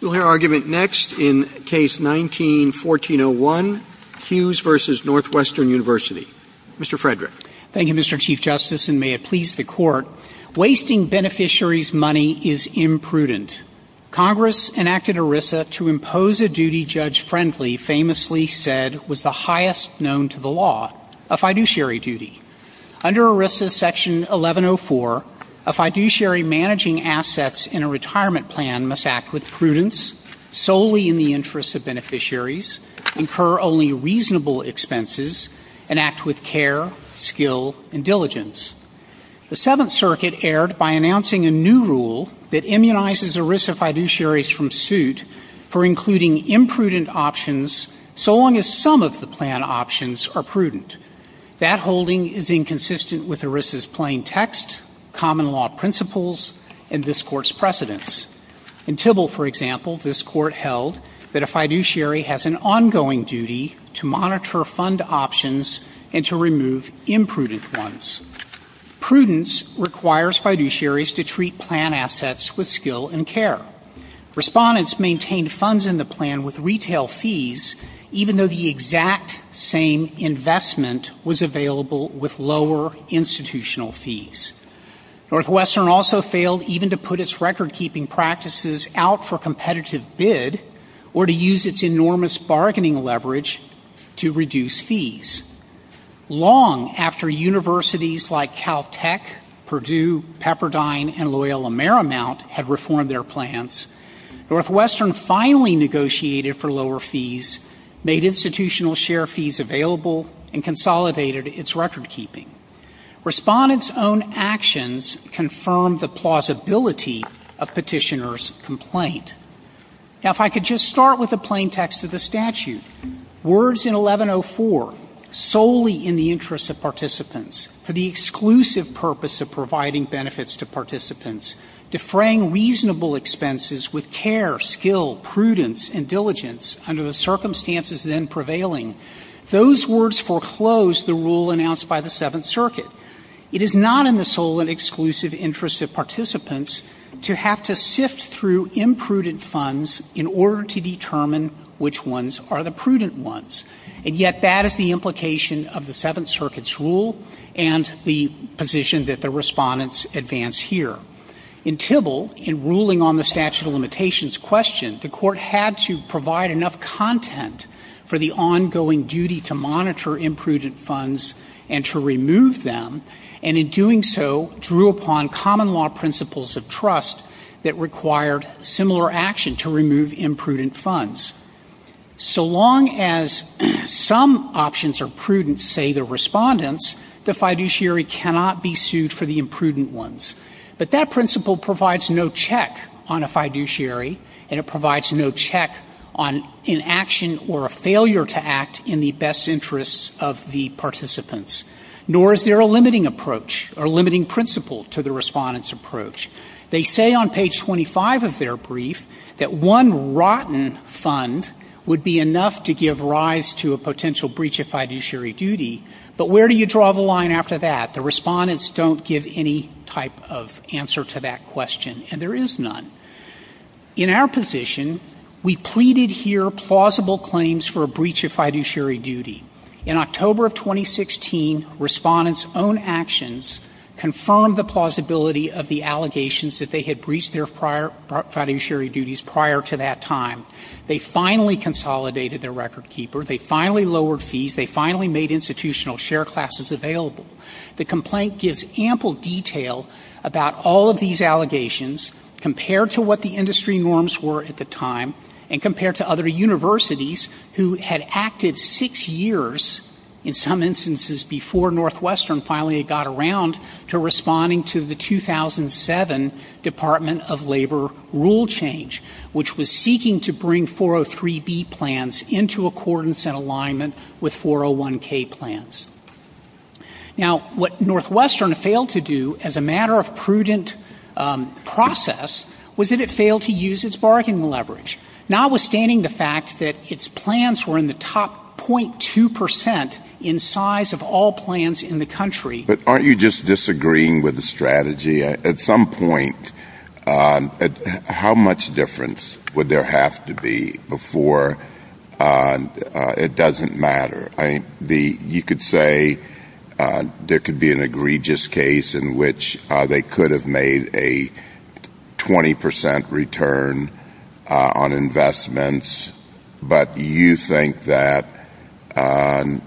Wasting beneficiary's money is imprudent. Congress enacted ERISA to impose a duty Judge Friendly famously said was the highest known to the law, a fiduciary duty. Under ERISA section 1104, a fiduciary managing assets in a retirement plan must act with prudence. ERISA fiduciaries must act with prudence, solely in the interest of beneficiaries, incur only reasonable expenses, and act with care, skill, and diligence. The Seventh Circuit erred by announcing a new rule that immunizes ERISA fiduciaries from suit for including imprudent options so long as some of the plan options are prudent. That holding is inconsistent with ERISA's plain text, common law principles, and this court's precedence. In Tybalt, for example, this court held that a fiduciary has an ongoing duty to monitor fund options and to remove imprudent ones. Prudence requires fiduciaries to treat plan assets with skill and care. Respondents maintained funds in the plan with retail fees, even though the exact same investment was available with lower institutional fees. Northwestern also failed even to put its record-keeping practices out for competitive bid or to use its enormous bargaining leverage to reduce fees. Long after universities like Caltech, Purdue, Pepperdine, and Loyola Marymount had reformed their plans, Northwestern finally negotiated for lower fees, made institutional share fees available, and consolidated its record-keeping. Respondents' own actions confirmed the plausibility of petitioners' complaint. Now, if I could just start with the plain text of the statute. And yet, that is the implication of the Seventh Circuit's rule and the position that the respondents advance here. In Tybalt, in ruling on the statute of limitations question, the court had to provide enough content for the ongoing duty to monitor imprudent funds and to remove them, and in doing so, drew upon common law principles of trust that required similar action to remove imprudent funds. So long as some options are prudent, say the respondents, the fiduciary cannot be sued for the imprudent ones. But that principle provides no check on a fiduciary, and it provides no check on inaction or a failure to act in the best interests of the participants. Nor is there a limiting approach or limiting principle to the respondents' approach. They say on page 25 of their brief that one rotten fund would be enough to give rise to a potential breach of fiduciary duty, but where do you draw the line after that? The respondents don't give any type of answer to that question, and there is none. In our position, we pleaded here plausible claims for a breach of fiduciary duty. In October of 2016, respondents' own actions confirmed the plausibility of the allegations that they had breached their fiduciary duties prior to that time. They finally consolidated their record keeper. They finally lowered fees. They finally made institutional share classes available. The complaint gives ample detail about all of these allegations compared to what the industry norms were at the time, and compared to other universities who had acted six years, in some instances before Northwestern finally got around to responding to the 2007 Department of Labor rule change, which was seeking to bring 403B plans into accordance and alignment with 401K plans. Now, what Northwestern failed to do as a matter of prudent process was that it failed to use its bargain leverage, notwithstanding the fact that its plans were in the top 0.2% in size of all plans in the country. But aren't you just disagreeing with the strategy? At some point, how much difference would there have to be before it doesn't matter? You could say there could be an egregious case in which they could have made a 20% return on investments, but you think that they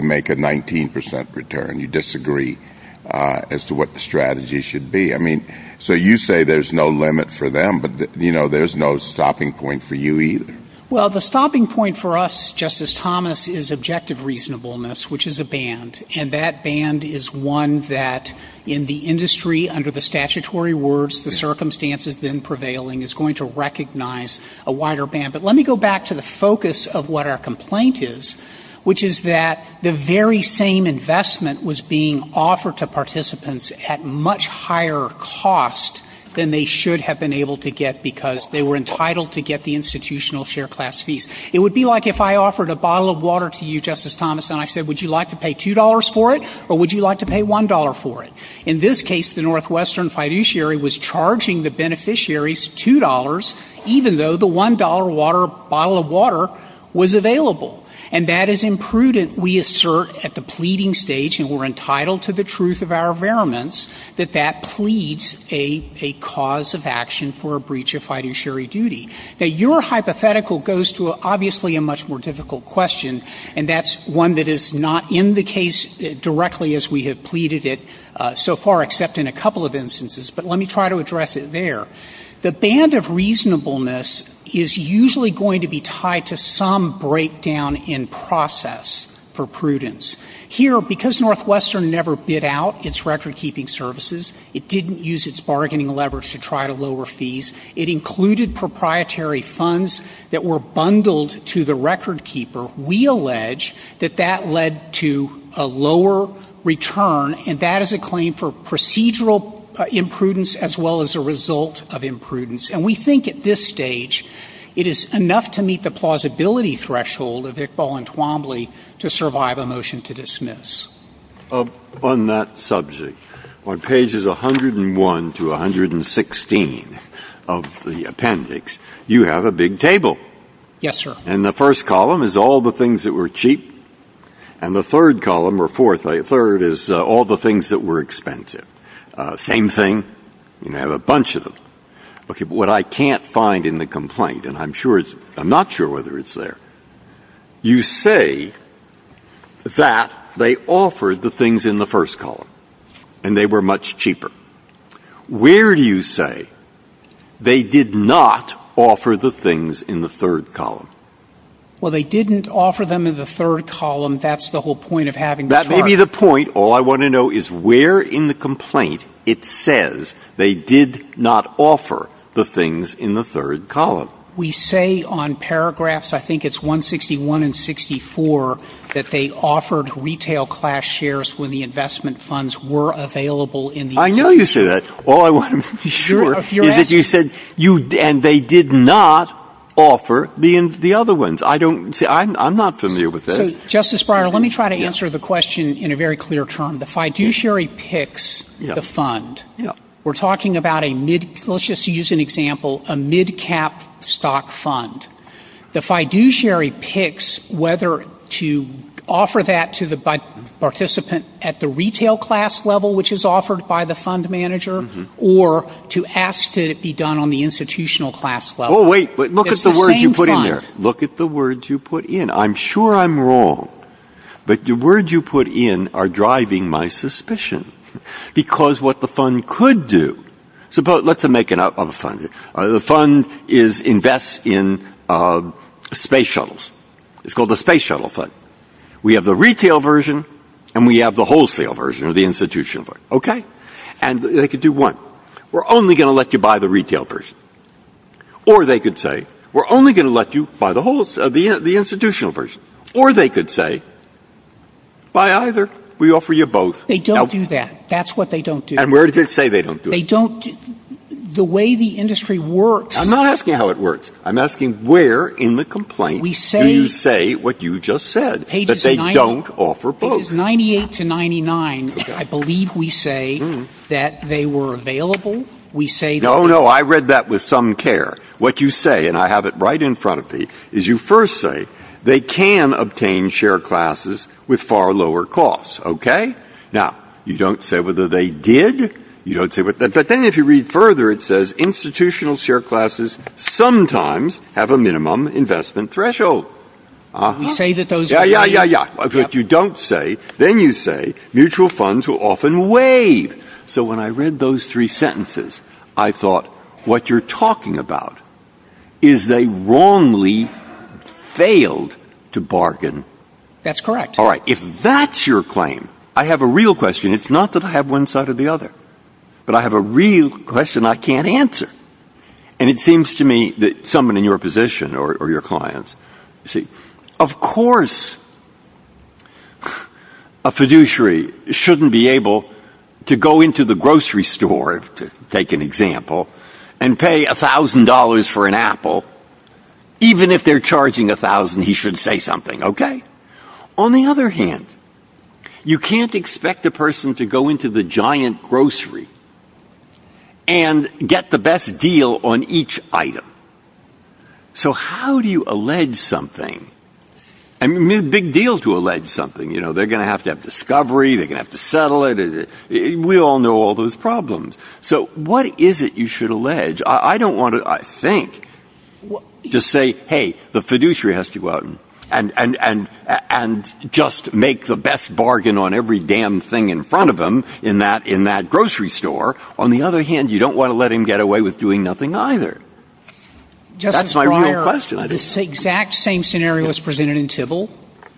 make a 19% return. You disagree as to what the strategy should be. So you say there's no limit for them, but there's no stopping point for you either. Well, the stopping point for us, Justice Thomas, is objective reasonableness, which is a band. And that band is one that, in the industry, under the statutory words, the circumstances been prevailing, is going to recognize a wider band. But let me go back to the focus of what our complaint is, which is that the very same investment was being offered to participants at much higher cost than they should have been able to get because they were entitled to get the institutional share class fees. It would be like if I offered a bottle of water to you, Justice Thomas, and I said, would you like to pay $2 for it, or would you like to pay $1 for it? In this case, the Northwestern fiduciary was charging the beneficiaries $2, even though the $1 bottle of water was available. And that is imprudent, we assert, at the pleading stage, and we're entitled to the truth of our variants, that that pleads a cause of action for a breach of fiduciary duty. Now, your hypothetical goes to, obviously, a much more difficult question, and that's one that is not in the case directly as we have pleaded it so far, except in a couple of instances. But let me try to address it there. The band of reasonableness is usually going to be tied to some breakdown in process for prudence. Here, because Northwestern never bid out its record-keeping services, it didn't use its bargaining leverage to try to lower fees, it included proprietary funds that were bundled to the record-keeper. We allege that that led to a lower return, and that is a claim for procedural imprudence as well as a result of imprudence. And we think at this stage it is enough to meet the plausibility threshold of Iqbal and Twombly to survive a motion to dismiss. On that subject, on pages 101 to 116 of the appendix, you have a big table. Yes, sir. And the first column is all the things that were cheap, and the third column or fourth or third is all the things that were expensive. Same thing. You have a bunch of them. Okay, but what I can't find in the complaint, and I'm not sure whether it's there, you say that they offered the things in the first column, and they were much cheaper. Where do you say they did not offer the things in the third column? Well, they didn't offer them in the third column. That's the whole point of having the chart. That may be the point. All I want to know is where in the complaint it says they did not offer the things in the third column. We say on paragraphs, I think it's 161 and 64, that they offered retail class shares when the investment funds were available in the election. I know you say that. All I want to make sure is that you said, and they did not offer the other ones. I'm not familiar with that. Justice Breyer, let me try to answer the question in a very clear term. The fiduciary picks the fund. We're talking about a mid, let's just use an example, a mid-cap stock fund. The fiduciary picks whether to offer that to the participant at the retail class level, which is offered by the fund manager, or to ask that it be done on the institutional class level. Oh, wait, look at the words you put in there. Look at the words you put in. I'm sure I'm wrong, but the words you put in are driving my suspicion. Because what the fund could do, let's make it up on the fund. The fund invests in space shuttles. It's called the space shuttle fund. We have the retail version, and we have the wholesale version, or the institutional version. And they could do one. We're only going to let you buy the retail version. Or they could say, we're only going to let you buy the institutional version. Or they could say, buy either. We offer you both. They don't do that. That's what they don't do. And where does it say they don't do it? The way the industry works. I'm not asking how it works. I'm asking where in the complaint do you say what you just said, that they don't offer both. Pages 98 to 99, I believe we say that they were available. No, no, I read that with some care. What you say, and I have it right in front of me, is you first say, they can obtain share classes with far lower costs. Okay? Now, you don't say whether they did. But then if you read further, it says institutional share classes sometimes have a minimum investment threshold. You say that those... Yeah, yeah, yeah, yeah. But you don't say, then you say, mutual funds will often waive. So when I read those three sentences, I thought, what you're talking about is they wrongly failed to bargain. That's correct. All right. If that's your claim, I have a real question. It's not that I have one side or the other. But I have a real question I can't answer. And it seems to me that someone in your position or your clients, of course, a fiduciary shouldn't be able to go into the grocery store, to take an example, and pay $1,000 for an apple. Even if they're charging $1,000, he should say something. Okay? On the other hand, you can't expect a person to go into the giant grocery and get the best deal on each item. So how do you allege something? I mean, big deal to allege something. You know, they're going to have to have discovery. They're going to have to settle it. We all know all those problems. So what is it you should allege? I don't want to, I think, to say, hey, the fiduciary has to go out and just make the best bargain on every damn thing in front of them in that grocery store. On the other hand, you don't want to let him get away with doing nothing either. That's my real question. Justice Breyer, this exact same scenario was presented in Tybill,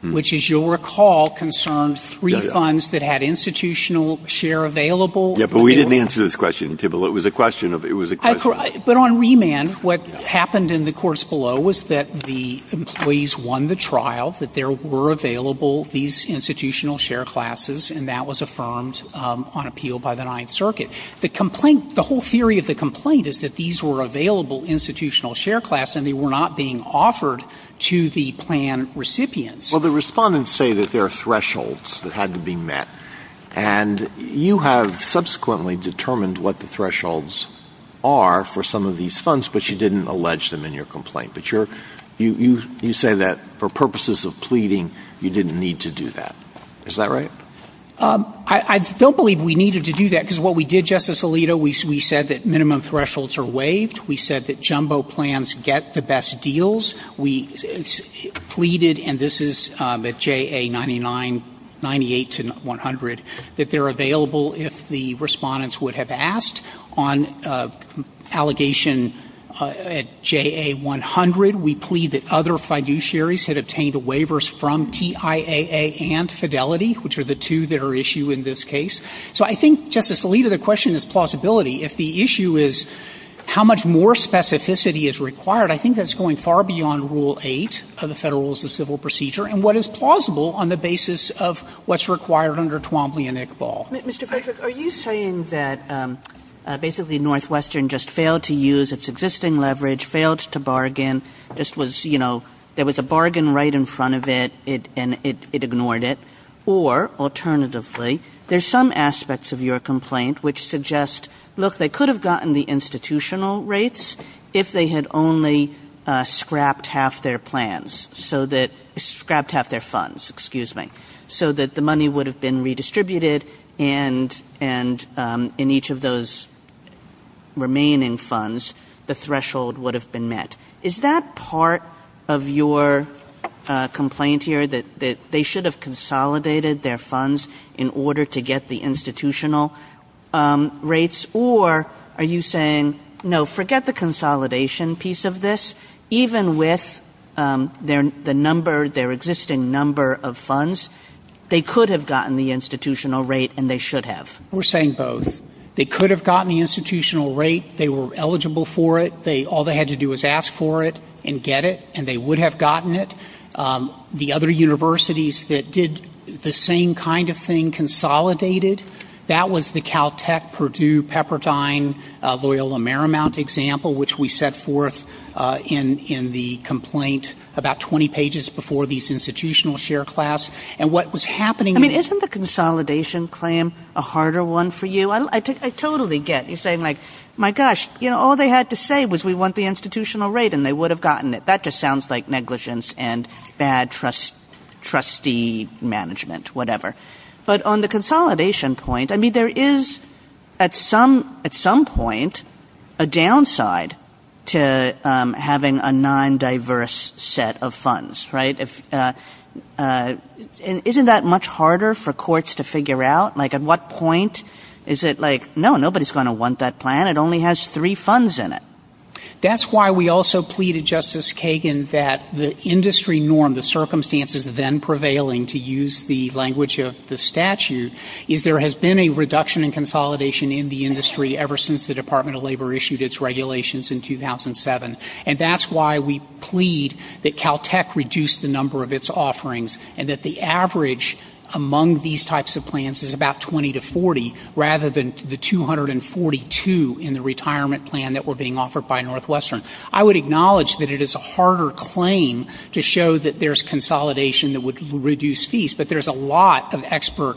which, as you'll recall, concerned three funds that had institutional share available. Yeah, but we didn't answer this question in Tybill. But on remand, what happened in the course below was that the employees won the trial, that there were available these institutional share classes, and that was affirmed on appeal by the Ninth Circuit. The whole theory of the complaint is that these were available institutional share classes, and they were not being offered to the plan recipients. Well, the respondents say that there are thresholds that had to be met. And you have subsequently determined what the thresholds are for some of these funds, but you didn't allege them in your complaint. But you say that for purposes of pleading, you didn't need to do that. Is that right? I don't believe we needed to do that, because what we did, Justice Alito, we said that minimum thresholds are waived. We said that jumbo plans get the best deals. We pleaded, and this is at JA 98-100, that they're available if the respondents would have asked. On allegation at JA 100, we plead that other fiduciaries had obtained waivers from TIAA and Fidelity, which are the two that are issue in this case. So I think, Justice Alito, the question is plausibility. If the issue is how much more specificity is required, I think that's going far beyond Rule 8 of the Federal Rules of Civil Procedure, and what is plausible on the basis of what's required under Twombly and Iqbal. Mr. Patrick, are you saying that basically Northwestern just failed to use its existing leverage, failed to bargain? This was, you know, there was a bargain right in front of it, and it ignored it? Or, alternatively, there's some aspects of your complaint which suggest, look, they could have gotten the institutional rates if they had only scrapped half their plans, so that – scrapped half their funds, excuse me, so that the money would have been redistributed, and in each of those remaining funds, the threshold would have been met. Is that part of your complaint here, that they should have consolidated their funds in order to get the institutional rates? Or are you saying, no, forget the consolidation piece of this. Even with the number – their existing number of funds, they could have gotten the institutional rate, and they should have. We're saying both. They could have gotten the institutional rate. They were eligible for it. All they had to do was ask for it and get it, and they would have gotten it. The other universities that did the same kind of thing consolidated, that was the Caltech, Purdue, Pepperdine, Loyola Marymount example, which we set forth in the complaint about 20 pages before these institutional share class, and what was happening – isn't the consolidation claim a harder one for you? I totally get you saying like, my gosh, all they had to say was we want the institutional rate, and they would have gotten it. That just sounds like negligence and bad trustee management, whatever. But on the consolidation point, I mean, there is at some point a downside to having a non-diverse set of funds, right? Isn't that much harder for courts to figure out? Like, at what point is it like, no, nobody's going to want that plan. It only has three funds in it. That's why we also pleaded, Justice Kagan, that the industry norm, the circumstances then prevailing, to use the language of the statute, is there has been a reduction in consolidation in the industry ever since the Department of Labor issued its regulations in 2007, and that's why we plead that Caltech reduce the number of its offerings, and that the average among these types of plans is about 20 to 40, rather than the 242 in the retirement plan that were being offered by Northwestern. I would acknowledge that it is a harder claim to show that there's consolidation that would reduce fees, but there's a lot of expert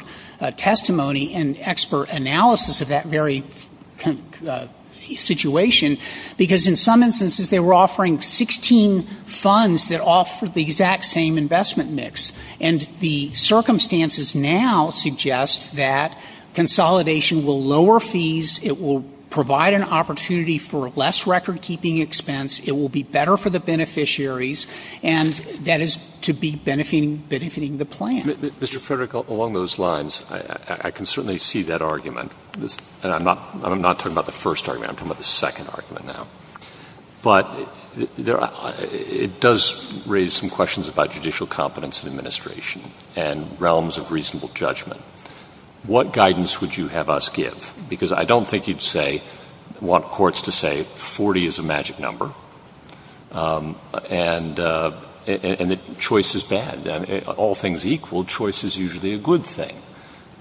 testimony and expert analysis of that very situation, because in some instances they were offering 16 funds that offered the exact same investment mix, and the circumstances now suggest that consolidation will lower fees, it will provide an opportunity for less record-keeping expense, it will be better for the beneficiaries, and that is to be benefiting the plan. Mr. Frederick, along those lines, I can certainly see that argument, and I'm not talking about the first argument, I'm talking about the second argument now, but it does raise some questions about judicial competence and administration, and realms of reasonable judgment. What guidance would you have us give? Because I don't think you'd want courts to say 40 is a magic number, and that choice is bad. All things equal, choice is usually a good thing.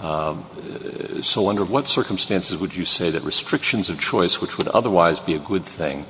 So under what circumstances would you say that restrictions of choice, which would otherwise be a good thing,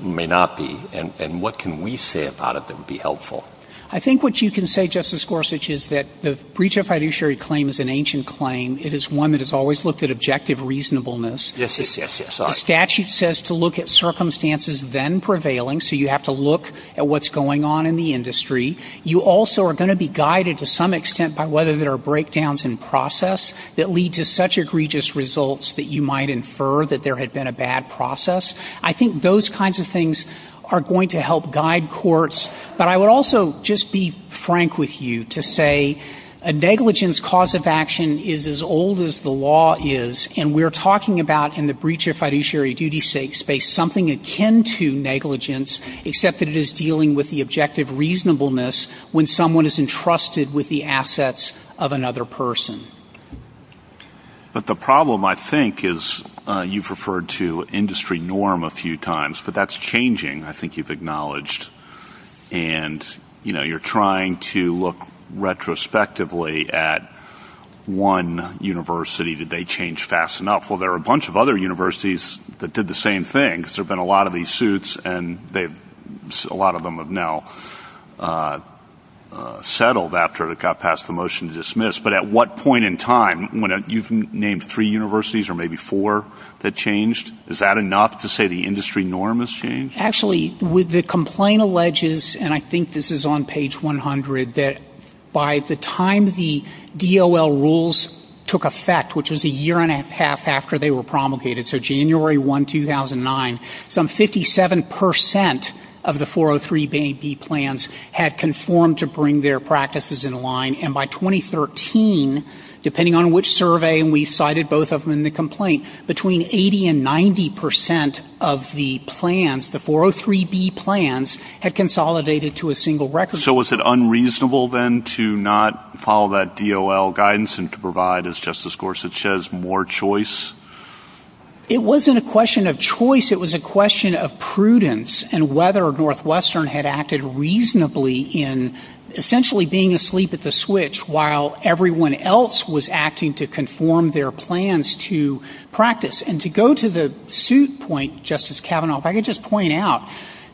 may not be? And what can we say about it that would be helpful? I think what you can say, Justice Gorsuch, is that the breach of fiduciary claim is an ancient claim. It is one that has always looked at objective reasonableness. Yes, yes, yes. The statute says to look at circumstances then prevailing, so you have to look at what's going on in the industry. You also are going to be guided to some extent by whether there are breakdowns in process that lead to such egregious results that you might infer that there had been a bad process. I think those kinds of things are going to help guide courts. But I would also just be frank with you to say a negligence cause of action is as old as the law is, and we're talking about in the breach of fiduciary duty space something akin to negligence, except that it is dealing with the objective reasonableness when someone is entrusted with the assets of another person. But the problem, I think, is you've referred to industry norm a few times, but that's changing, I think you've acknowledged. And, you know, you're trying to look retrospectively at one university. Did they change fast enough? Well, there are a bunch of other universities that did the same thing. There have been a lot of these suits, and a lot of them have now settled after it got past the motion to dismiss. But at what point in time? You've named three universities or maybe four that changed. Is that enough to say the industry norm has changed? Actually, the complaint alleges, and I think this is on page 100, that by the time the DOL rules took effect, which is a year and a half after they were promulgated, so January 1, 2009, some 57% of the 403B plans had conformed to bring their practices in line, and by 2013, depending on which survey we cited both of them in the complaint, between 80% and 90% of the plans, the 403B plans, had consolidated to a single record. So is it unreasonable then to not follow that DOL guidance and to provide, as Justice Gorsuch says, more choice? It wasn't a question of choice. It was a question of prudence and whether Northwestern had acted reasonably in essentially being asleep at the switch while everyone else was acting to conform their plans to practice. And to go to the suit point, Justice Kavanaugh, if I could just point out,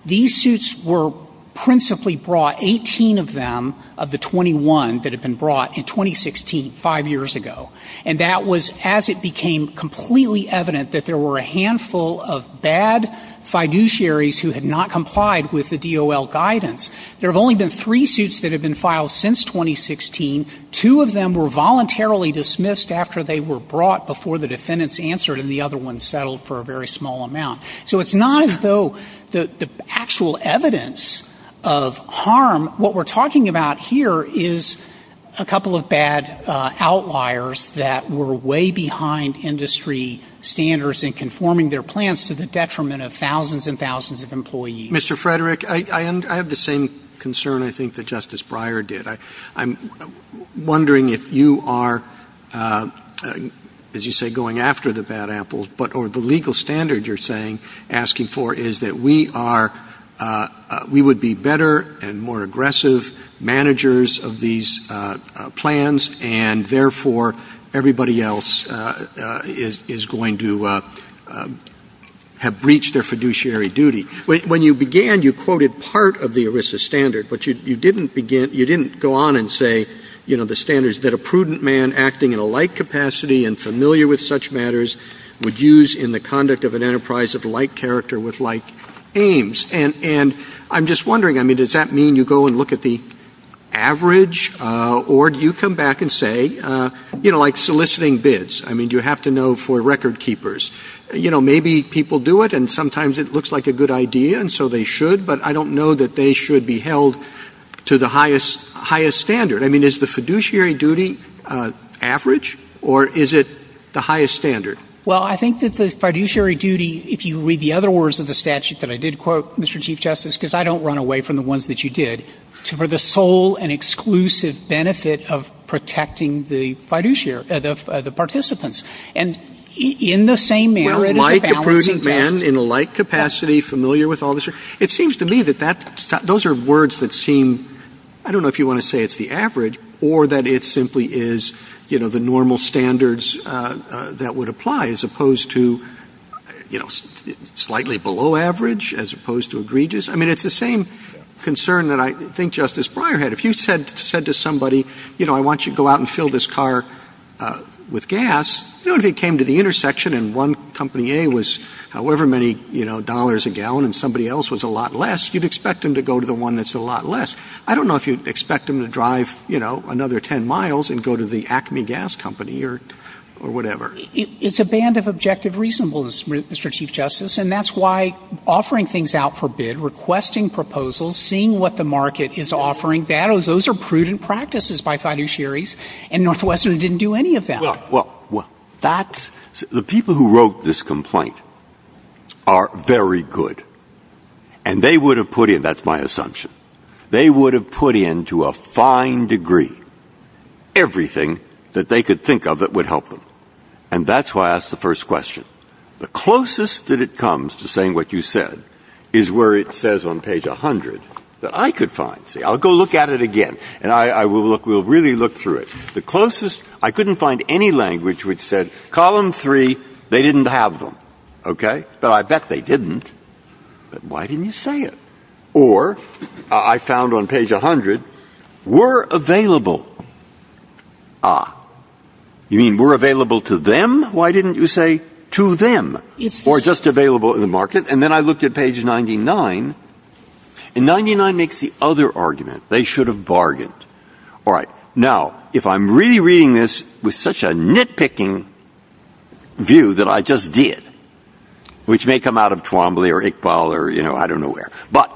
these suits were principally brought, 18 of them of the 21 that had been brought in 2016, five years ago, and that was as it became completely evident that there were a handful of bad fiduciaries who had not complied with the DOL guidance. There have only been three suits that have been filed since 2016. Two of them were voluntarily dismissed after they were brought before the defendants answered, and the other one settled for a very small amount. So it's not as though the actual evidence of harm, what we're talking about here is a couple of bad outliers that were way behind industry standards in conforming their plans to the detriment of thousands and thousands of employees. Mr. Frederick, I have the same concern, I think, that Justice Breyer did. I'm wondering if you are, as you say, going after the bad apples, or the legal standard you're asking for is that we would be better and more aggressive managers of these plans and therefore everybody else is going to have breached their fiduciary duty. When you began, you quoted part of the ERISA standard, but you didn't go on and say, you know, the standards that a prudent man acting in a light capacity and familiar with such matters would use in the conduct of an enterprise of light character with light aims. And I'm just wondering, I mean, does that mean you go and look at the average, or do you come back and say, you know, like soliciting bids? I mean, you have to know for record keepers. You know, maybe people do it and sometimes it looks like a good idea and so they should, but I don't know that they should be held to the highest standard. I mean, is the fiduciary duty average, or is it the highest standard? Well, I think that the fiduciary duty, if you read the other words of the statute that I did quote, Mr. Chief Justice, because I don't run away from the ones that you did, for the sole and exclusive benefit of protecting the fiduciary, the participants. And in the same manner, it is a balancing act. Again, in a light capacity, familiar with all this. It seems to me that those are words that seem, I don't know if you want to say it's the average, or that it simply is, you know, the normal standards that would apply, as opposed to, you know, slightly below average, as opposed to egregious. I mean, it's the same concern that I think Justice Breyer had. If you said to somebody, you know, I want you to go out and fill this car with gas, you know, if you came to the intersection and one company A was however many, you know, dollars a gallon, and somebody else was a lot less, you'd expect them to go to the one that's a lot less. I don't know if you'd expect them to drive, you know, another 10 miles and go to the Acme Gas Company or whatever. It's a band of objective reasonableness, Mr. Chief Justice, and that's why offering things out for bid, requesting proposals, seeing what the market is offering, those are prudent practices by fiduciaries, and Northwestern didn't do any of that. Well, the people who wrote this complaint are very good, and they would have put in, that's my assumption, they would have put in to a fine degree everything that they could think of that would help them. And that's why I asked the first question. The closest that it comes to saying what you said is where it says on page 100 that I could find. I'll go look at it again, and I will really look through it. The closest, I couldn't find any language which said column 3, they didn't have them. Okay? But I bet they didn't. But why didn't you say it? Or I found on page 100, were available. Ah. You mean were available to them? Why didn't you say to them? Or just available in the market? And then I looked at page 99, and 99 makes the other argument. They should have bargained. All right. Now, if I'm really reading this with such a nitpicking view that I just did, which may come out of Twombly or Iqbal or, you know, I don't know where, but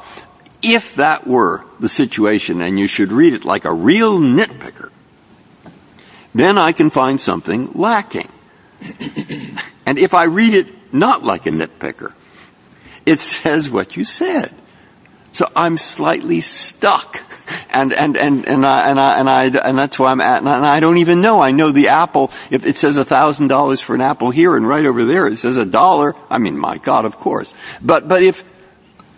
if that were the situation and you should read it like a real nitpicker, then I can find something lacking. And if I read it not like a nitpicker, it says what you said. So I'm slightly stuck, and that's where I'm at. And I don't even know. I know the apple, it says $1,000 for an apple here and right over there. It says $1. I mean, my God, of course. But if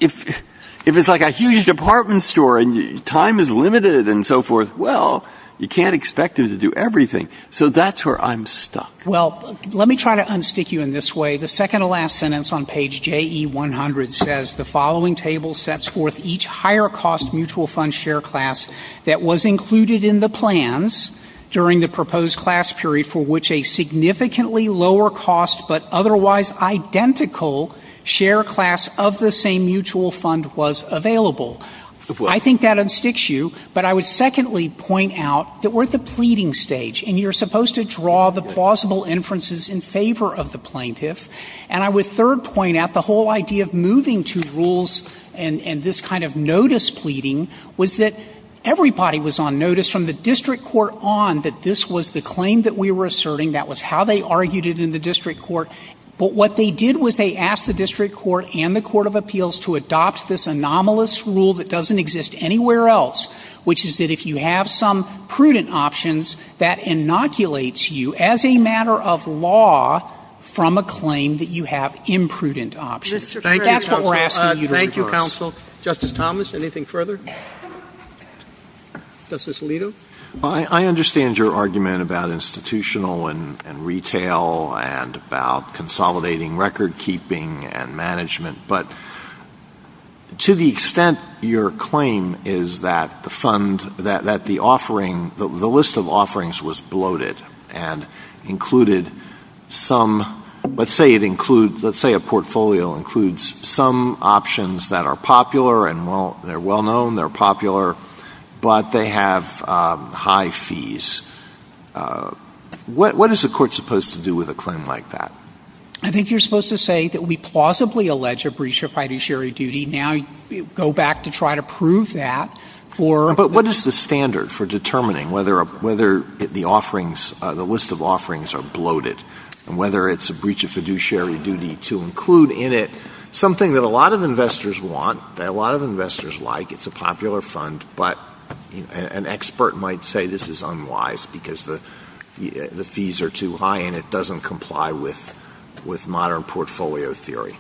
it's like a huge department store and time is limited and so forth, well, you can't expect them to do everything. So that's where I'm stuck. Well, let me try to unstick you in this way. The second to last sentence on page JE100 says, the following table sets forth each higher cost mutual fund share class that was included in the plans during the proposed class period for which a significantly lower cost but otherwise identical share class of the same mutual fund was available. I think that unsticks you, but I would secondly point out that we're at the point where you're supposed to draw the plausible inferences in favor of the plaintiff, and I would third point out the whole idea of moving to rules and this kind of notice pleading was that everybody was on notice from the district court on that this was the claim that we were asserting, that was how they argued it in the district court. But what they did was they asked the district court and the court of appeals to adopt this anomalous rule that doesn't exist anywhere else, which is that if you have some prudent options, that inoculates you as a matter of law from a claim that you have imprudent options. That's what we're asking you to do. Thank you, counsel. Justice Thomas, anything further? Justice Alito? I understand your argument about institutional and retail and about consolidating record keeping and management, but to the extent your claim is that the fund, that the offering, the list of offerings was bloated and included some, let's say it includes, let's say a portfolio includes some options that are popular and well, they're well known, they're popular, but they have high fees. What is the court supposed to do with a claim like that? I think you're supposed to say that we plausibly allege a breach of fiduciary duty. Now you go back to try to prove that. But what is the standard for determining whether the offerings, the list of offerings are bloated and whether it's a breach of fiduciary duty to include in it something that a lot of investors want, that a lot of investors like. It's a popular fund, but an expert might say this is unwise because the fees are too high and it has nothing to do with modern portfolio theory.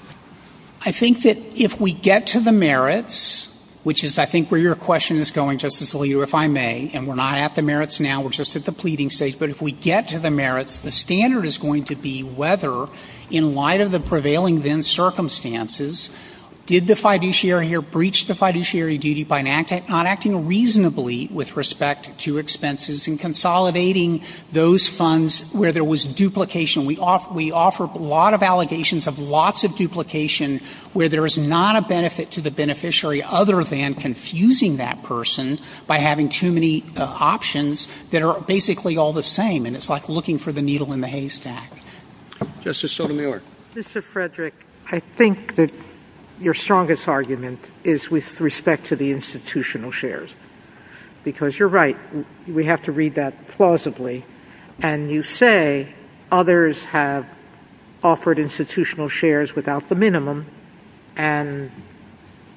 I think that if we get to the merits, which is I think where your question is going, Justice Aliyah, if I may, and we're not at the merits now, we're just at the pleading stage, but if we get to the merits, the standard is going to be whether in light of the prevailing then circumstances, did the fiduciary here breach the fiduciary duty by not acting reasonably with respect to expenses and consolidating those funds where there was duplication. We offer a lot of allegations of lots of duplication where there is not a benefit to the beneficiary other than confusing that person by having too many options that are basically all the same. And it's like looking for the needle in the haystack. Justice Sotomayor. Mr. Frederick, I think that your strongest argument is with respect to the institutional shares because you're right. We have to read that plausibly. And you say others have offered institutional shares without the minimum and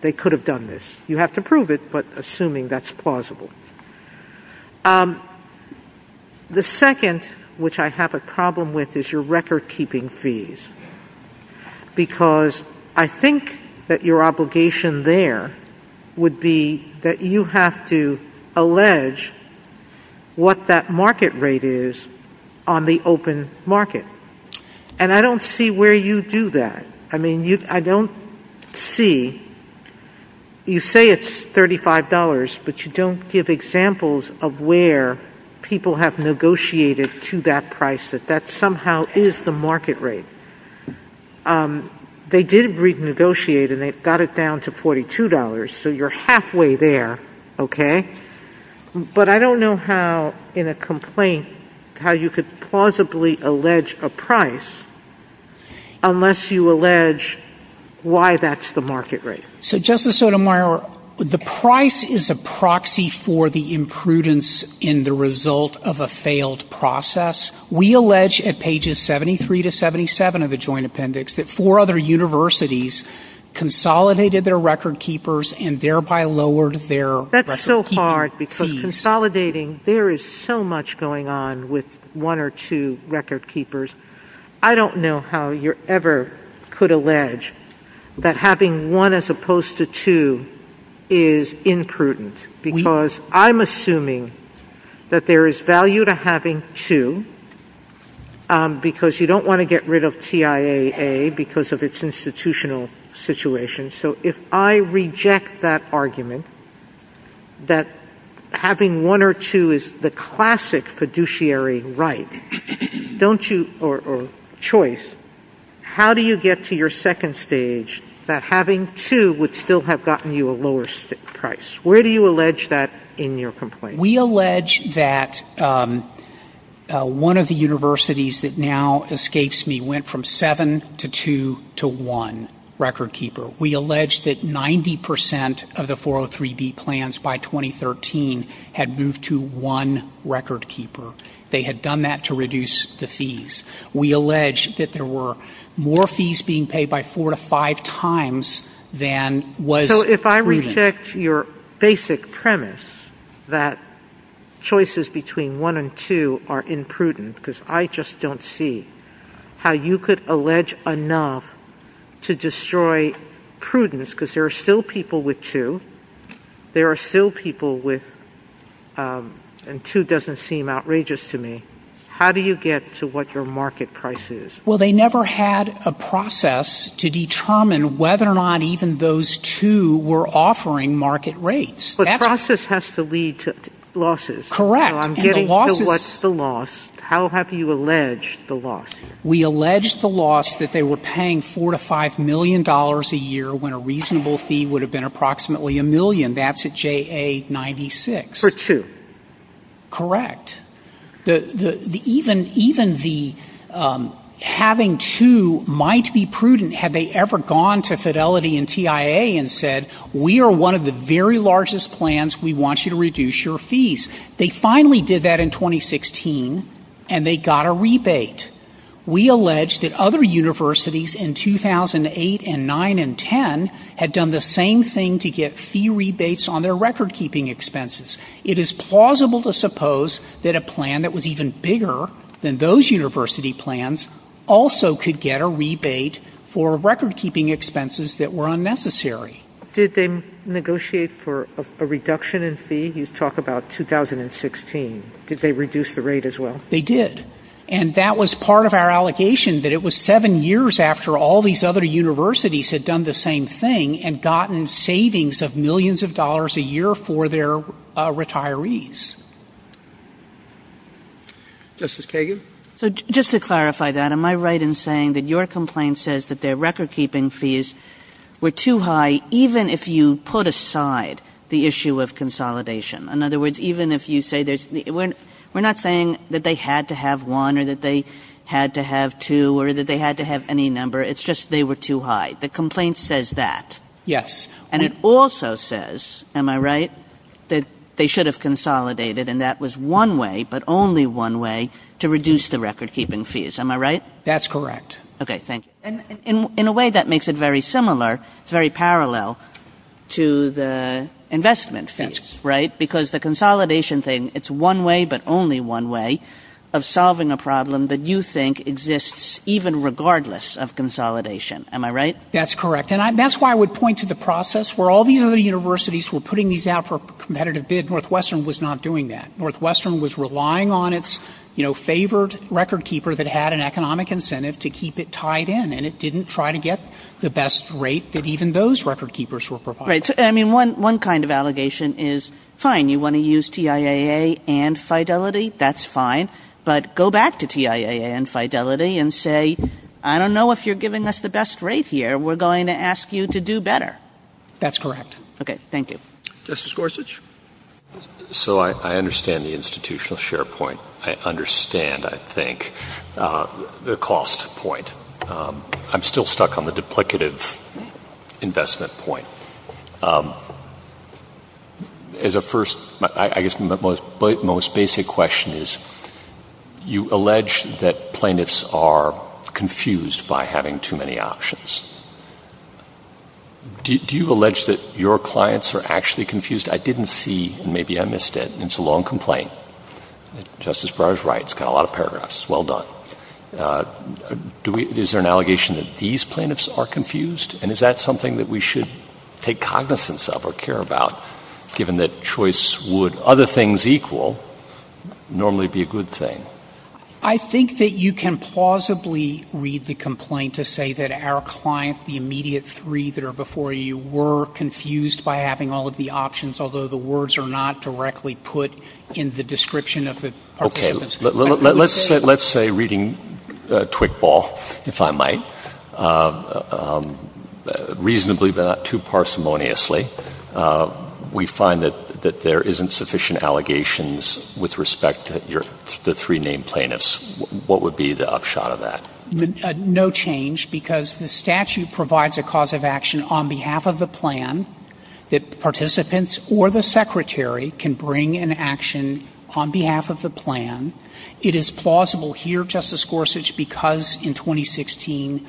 they could have done this. You have to prove it, but assuming that's plausible. The second, which I have a problem with, is your record-keeping fees because I think that your obligation there would be that you have to allege what that market rate is on the open market. And I don't see where you do that. I mean, I don't see you say it's $35, but you don't give examples of where people have negotiated to that price, that that somehow is the market rate. They did renegotiate and they got it down to $42. So you're halfway there. Okay? But I don't know how in a complaint how you could plausibly allege a price unless you allege why that's the market rate. So, Justice Sotomayor, the price is a proxy for the imprudence in the result of a failed process. We allege at pages 73 to 77 of the joint appendix that four other universities consolidated their record-keepers and thereby lowered their record-keeping fees. That's so hard because consolidating, there is so much going on with one or two record-keepers. I don't know how you ever could allege that having one as opposed to two is imprudent because I'm assuming that there is value to having two because you don't want to get rid of TIAA because of its institutional situation. So if I reject that argument that having one or two is the classic fiduciary right, don't you, or choice, how do you get to your second stage that having two would still have gotten you a lower price? Where do you allege that in your complaint? We allege that one of the universities that now escapes me went from seven to two to one record-keeper. We allege that 90% of the 403B plans by 2013 had moved to one record-keeper. They had done that to reduce the fees. We allege that there were more fees being paid by four to five times than was- How do you get to your basic premise that choices between one and two are imprudent because I just don't see how you could allege enough to destroy prudence because there are still people with two. There are still people with-and two doesn't seem outrageous to me. How do you get to what your market price is? Well, they never had a process to determine whether or not even those two were offering market rates. The process has to lead to losses. Correct. What's the loss? How have you alleged the loss? We allege the loss that they were paying four to five million dollars a year when a reasonable fee would have been approximately a million. That's at JA96. For two. Correct. So, how do you get to your basic premise that even having two might be prudent? Have they ever gone to Fidelity and TIA and said, we are one of the very largest plans, we want you to reduce your fees? They finally did that in 2016, and they got a rebate. We allege that other universities in 2008 and 2009 and 2010 had done the same thing to get fee rebates on their record-keeping expenses. It is plausible to suppose that a plan that was even bigger than those university plans also could get a rebate for record-keeping expenses that were unnecessary. Did they negotiate for a reduction in fee? You talk about 2016. Did they reduce the rate as well? They did. And that was part of our allegation, that it was seven years after all these other universities had done the same thing and gotten savings of millions of dollars a year for their retirees. Justice Kagan? Just to clarify that, am I right in saying that your complaint says that their record-keeping fees were too high even if you put aside the issue of consolidation? In other words, even if you say, we are not saying that they had to have one, or that they had to have two, or that they had to have any number. It's just they were too high. The complaint says that. Yes. And it also says, am I right, that they should have consolidated and that was one way, but only one way to reduce the record-keeping fees. Am I right? That's correct. Okay, thank you. In a way, that makes it very similar, very parallel to the investment fees, right? Because the consolidation thing, it's one way but only one way of solving a problem that you think exists even regardless of consolidation. Am I right? That's correct. And that's why I would point to the process where all these other universities were putting these out for competitive bid. Northwestern was not doing that. Northwestern was relying on its favored record-keeper that had an economic incentive to keep it tied in and it didn't try to get the best rate that even those record-keepers were providing. Right. I mean, one kind of allegation is, fine, you want to use TIAA and Fidelity, that's fine, but go back to TIAA and Fidelity and say, I don't know if you're giving us the best rate here. We're going to ask you to do better. That's correct. Okay, thank you. Justice Gorsuch? So I understand the institutional share point. I understand, I think, the cost point. I'm still stuck on the duplicative investment point. As a first, I guess my most basic question is, you allege that plaintiffs are confused by having too many options. Do you allege that your clients are actually confused? I didn't see, and maybe I missed it, and it's a long complaint. Justice Breyer's right. It's got a lot of paragraphs. Well done. Is there an allegation that these plaintiffs are confused? And is that something that we should take cognizance of or care about, given that choice would, other things equal, normally be a good thing? I think that you can plausibly read the complaint to say that our client, the immediate three that are before you, were confused by having all of the options, although the words are not directly put in the description of the participants. Let's say, reading quick ball, if I might, reasonably but not too parsimoniously, we find that there isn't sufficient allegations with respect to the three named plaintiffs. What would be the upshot of that? No change, because the statute provides a cause of action on behalf of the plan that participants or the secretary can bring an action on behalf of the plan. It is plausible here, Justice Gorsuch, because in 2016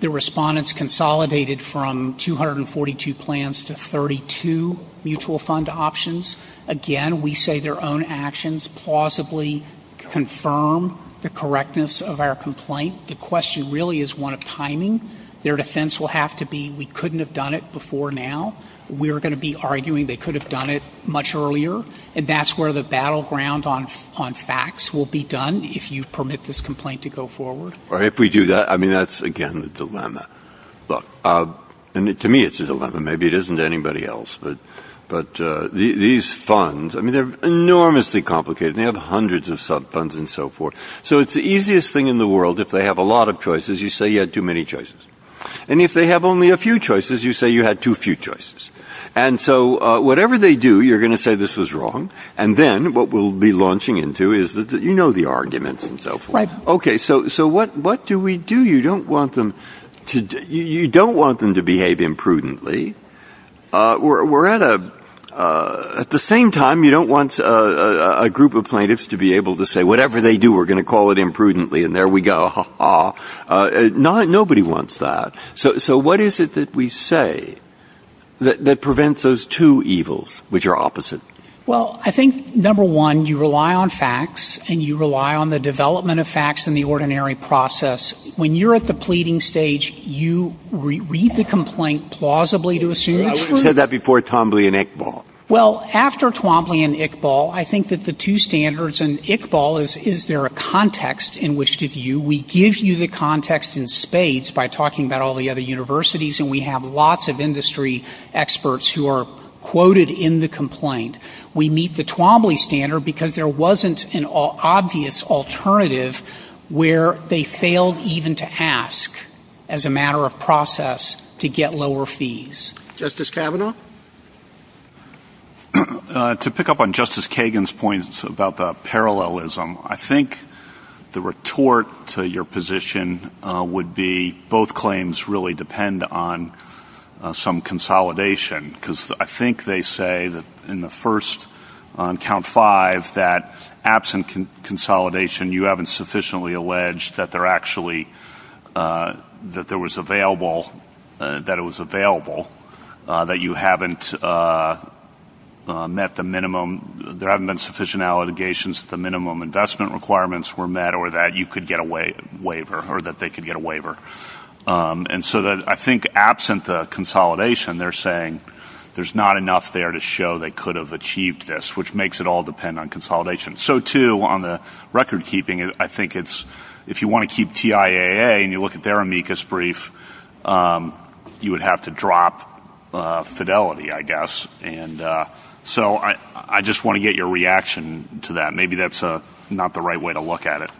the respondents consolidated from 242 plans to 32 mutual fund options. Again, we say their own actions plausibly confirm the correctness of our complaint. The question really is one of timing. Their defense will have to be we couldn't have done it before now. We're going to be arguing they could have done it much earlier, and that's where the battleground on facts will be done if you permit this complaint to go forward. If we do that, I mean, that's, again, the dilemma. Look, to me it's a dilemma. Maybe it isn't to anybody else, but these funds, I mean, they're enormously complicated. They have hundreds of sub funds and so forth. So it's the easiest thing in the world if they have a lot of choices. You say you had too many choices. And if they have only a few choices, you say you had too few choices. And so whatever they do, you're going to say this was wrong, and then what we'll be launching into is that you know the arguments and so forth. Okay, so what do we do? You don't want them to behave imprudently. At the same time, you don't want a group of plaintiffs to be able to say whatever they do, we're going to call it imprudently, and there we go. Nobody wants that. So what is it that we say that prevents those two evils, which are opposite? Well, I think, number one, you rely on facts, and you rely on the development of facts in the ordinary process. When you're at the pleading stage, you read the complaint plausibly to assume it's true. You said that before Twombly and Iqbal. Well, after Twombly and Iqbal, I think that the two standards, and Iqbal is is there a context in which to view. We give you the context in spades by talking about all the other universities, and we have lots of industry experts who are quoted in the complaint. We meet the Twombly standard because there wasn't an obvious alternative where they failed even to ask as a matter of process to get lower fees. Justice Kavanaugh? To pick up on Justice Kagan's points about the parallelism, I think the retort to your position would be both claims really depend on some consolidation, because I think they say in the first, on count five, that absent consolidation, you haven't sufficiently alleged that it was available, that you haven't met the minimum, there haven't been sufficient allegations that the minimum investment requirements were met or that you could get a waiver or that they could get a waiver. And so I think absent the consolidation, they're saying there's not enough there to show they could have achieved this, which makes it all depend on consolidation. So, too, on the recordkeeping, I think it's if you want to keep TIAA and you look at their amicus brief, you would have to drop fidelity, I guess. And so I just want to get your reaction to that. Maybe that's not the right way to look at it.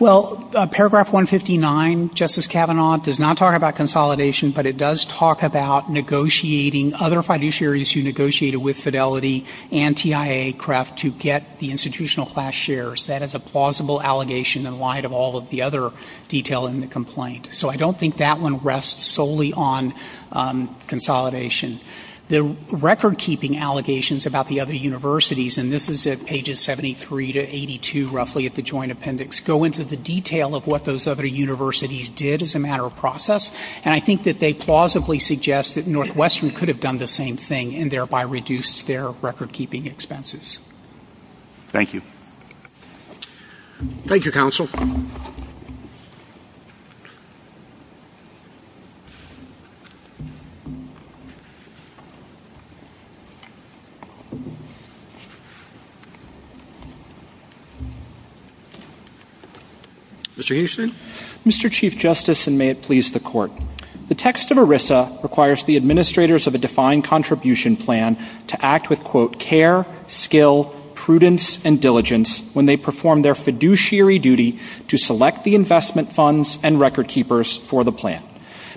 Well, paragraph 159, Justice Kavanaugh, does not talk about consolidation, but it does talk about negotiating other fiduciaries who negotiated with Fidelity and TIAA-CREF to get the institutional class shares. That is a plausible allegation in light of all of the other detail in the complaint. So I don't think that one rests solely on consolidation. The recordkeeping allegations about the other universities, and this is at pages 73 to 82, roughly, of the joint appendix, go into the detail of what those other universities did as a matter of process, and I think that they plausibly suggest that Northwestern could have done the same thing and thereby reduced their recordkeeping expenses. Thank you. Thank you, counsel. Mr. Houston? Mr. Chief Justice, and may it please the Court, the text of ERISA requires the administrators of a defined contribution plan to act with, quote, care, skill, prudence, and diligence when they perform their fiduciary duty to select the investment funds and recordkeepers for the plan.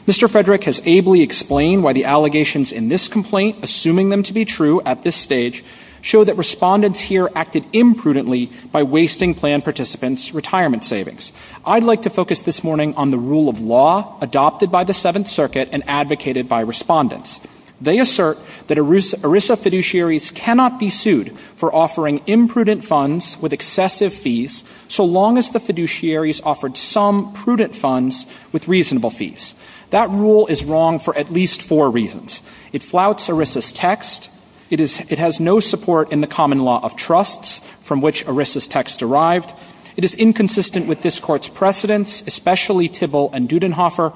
Mr. Frederick has ably explained why the allegations in this complaint, assuming them to be true at this stage, show that respondents here acted imprudently by wasting plan participants' retirement savings. I'd like to focus this morning on the rule of law adopted by the Seventh Circuit and advocated by respondents. They assert that ERISA fiduciaries cannot be sued for offering imprudent funds with excessive fees so long as the fiduciaries offered some prudent funds with reasonable fees. That rule is wrong for at least four reasons. It flouts ERISA's text. It has no support in the common law of trusts from which ERISA's text derived. It is inconsistent with this Court's precedents, especially Tibble and Dudenhofer,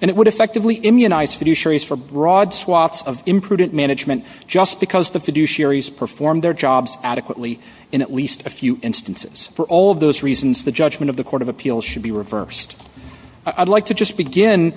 and it would effectively immunize fiduciaries for broad swaths of imprudent management just because the fiduciaries performed their jobs adequately in at least a few instances. For all of those reasons, the judgment of the Court of Appeals should be reversed. I'd like to just begin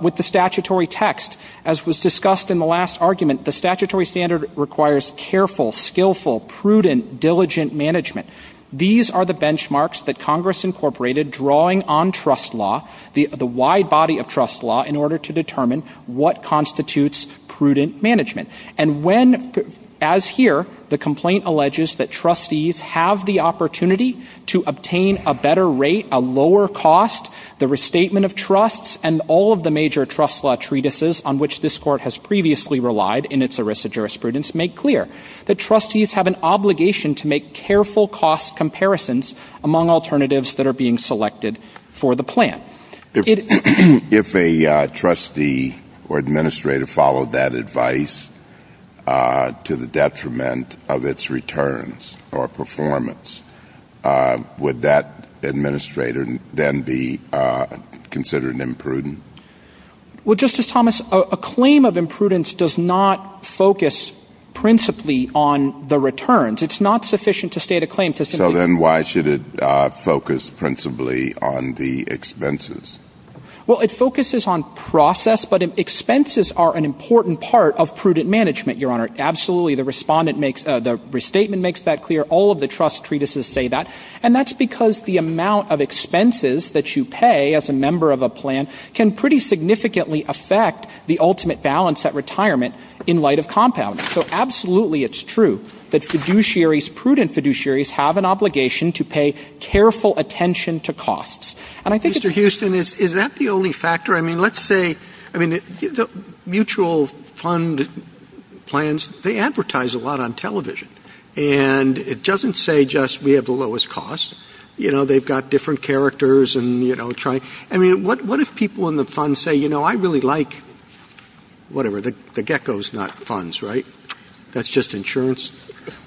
with the statutory text. As was discussed in the last argument, the statutory standard requires careful, skillful, prudent, diligent management. These are the benchmarks that Congress incorporated, drawing on trust law, the wide body of trust law, in order to determine what constitutes prudent management. And when, as here, the complaint alleges that trustees have the opportunity to obtain a better rate, a lower cost, the restatement of trusts, and all of the major trust law treatises on which this Court has previously relied in its ERISA jurisprudence, make clear that trustees have an obligation to make careful cost comparisons among alternatives that are being selected for the plan. If a trustee or administrator followed that advice to the detriment of its returns or performance, would that administrator then be considered imprudent? Well, Justice Thomas, a claim of imprudence does not focus principally on the returns. It's not sufficient to state a claim. So then why should it focus principally on the expenses? Well, it focuses on process, but expenses are an important part of prudent management, Your Honor. Absolutely, the restatement makes that clear. All of the trust treatises say that. And that's because the amount of expenses that you pay as a member of a plan can pretty significantly affect the ultimate balance at retirement in light of compounding. So absolutely it's true that fiduciaries, prudent fiduciaries, have an obligation to pay careful attention to costs. Mr. Houston, is that the only factor? I mean, let's say the mutual fund plans, they advertise a lot on television. And it doesn't say just we have the lowest cost. You know, they've got different characters and, you know, trying. I mean, what if people in the fund say, you know, I really like, whatever, the gecko's nut funds, right? That's just insurance.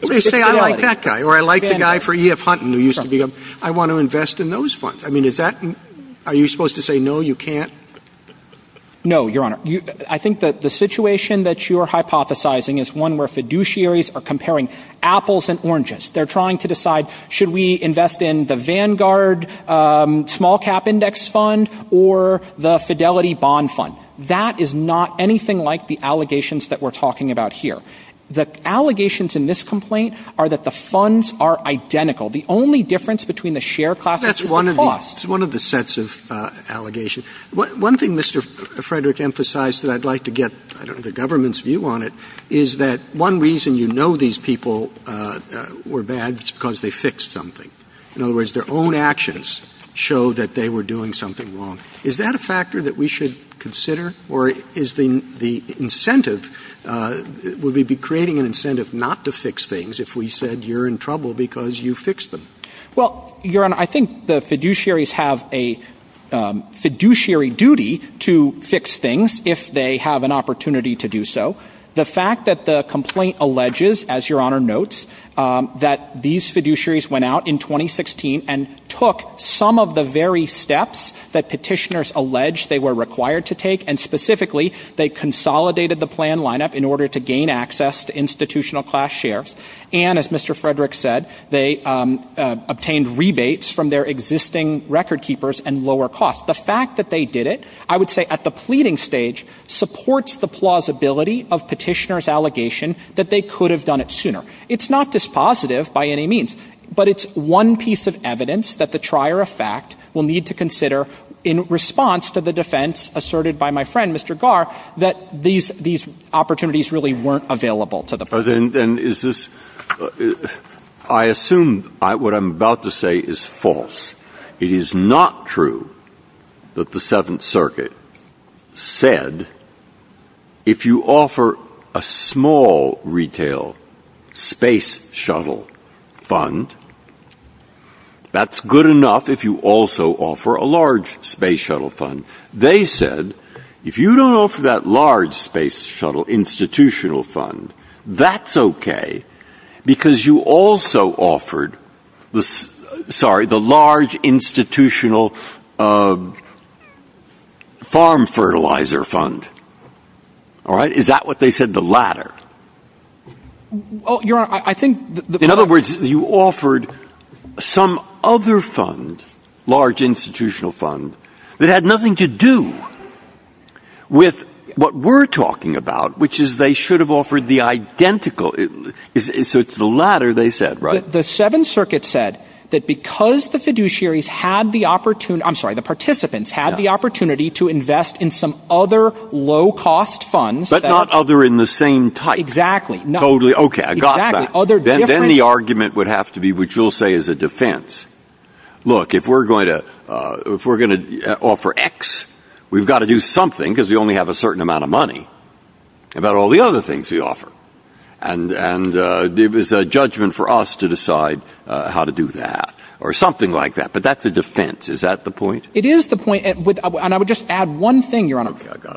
Let's say I like that guy or I like the guy for E.F. Hunton who used to be a, I want to invest in those funds. I mean, is that, are you supposed to say no, you can't? No, Your Honor. I think that the situation that you are hypothesizing is one where fiduciaries are comparing apples and oranges. They're trying to decide should we invest in the Vanguard small cap index fund or the Fidelity bond fund. That is not anything like the allegations that we're talking about here. The allegations in this complaint are that the funds are identical. The only difference between the share class is the cost. That's one of the sets of allegations. One thing Mr. Frederick emphasized that I'd like to get the government's view on it is that one reason you know these people were bad is because they fixed something. In other words, their own actions show that they were doing something wrong. Is that a factor that we should consider or is the incentive, would we be creating an incentive not to fix things if we said you're in trouble because you fixed them? Well, Your Honor, I think the fiduciaries have a fiduciary duty to fix things if they have an opportunity to do so. The fact that the complaint alleges, as Your Honor notes, that these fiduciaries went out in 2016 and took some of the very steps that petitioners allege they were required to take. And specifically, they consolidated the plan lineup in order to gain access to institutional class shares. And as Mr. Frederick said, they obtained rebates from their existing record keepers and lower costs. The fact that they did it, I would say at the pleading stage, supports the plausibility of petitioners' allegation that they could have done it sooner. It's not dispositive by any means, but it's one piece of evidence that the trier of fact will need to consider in response to the defense asserted by my friend, Mr. Garr, that these opportunities really weren't available to the president. I assume what I'm about to say is false. It is not true that the Seventh Circuit said if you offer a small retail space shuttle fund, that's good enough if you also offer a large space shuttle fund. They said if you don't offer that large space shuttle institutional fund, that's okay because you also offered the large institutional farm fertilizer fund. Is that what they said, the latter? In other words, you offered some other fund, large institutional fund, that had nothing to do with what we're talking about, which is they should have offered the identical. So it's the latter they said, right? The Seventh Circuit said that because the fiduciaries had the opportunity, I'm sorry, the participants had the opportunity to invest in some other low-cost funds. But not other in the same type. Exactly. Then the argument would have to be, which you'll say is a defense, look, if we're going to offer X, we've got to do something because we only have a certain amount of money about all the other things we offer. And it was a judgment for us to decide how to do that or something like that. But that's a defense. Is that the point? It is the point. And I would just add one thing, Your Honor.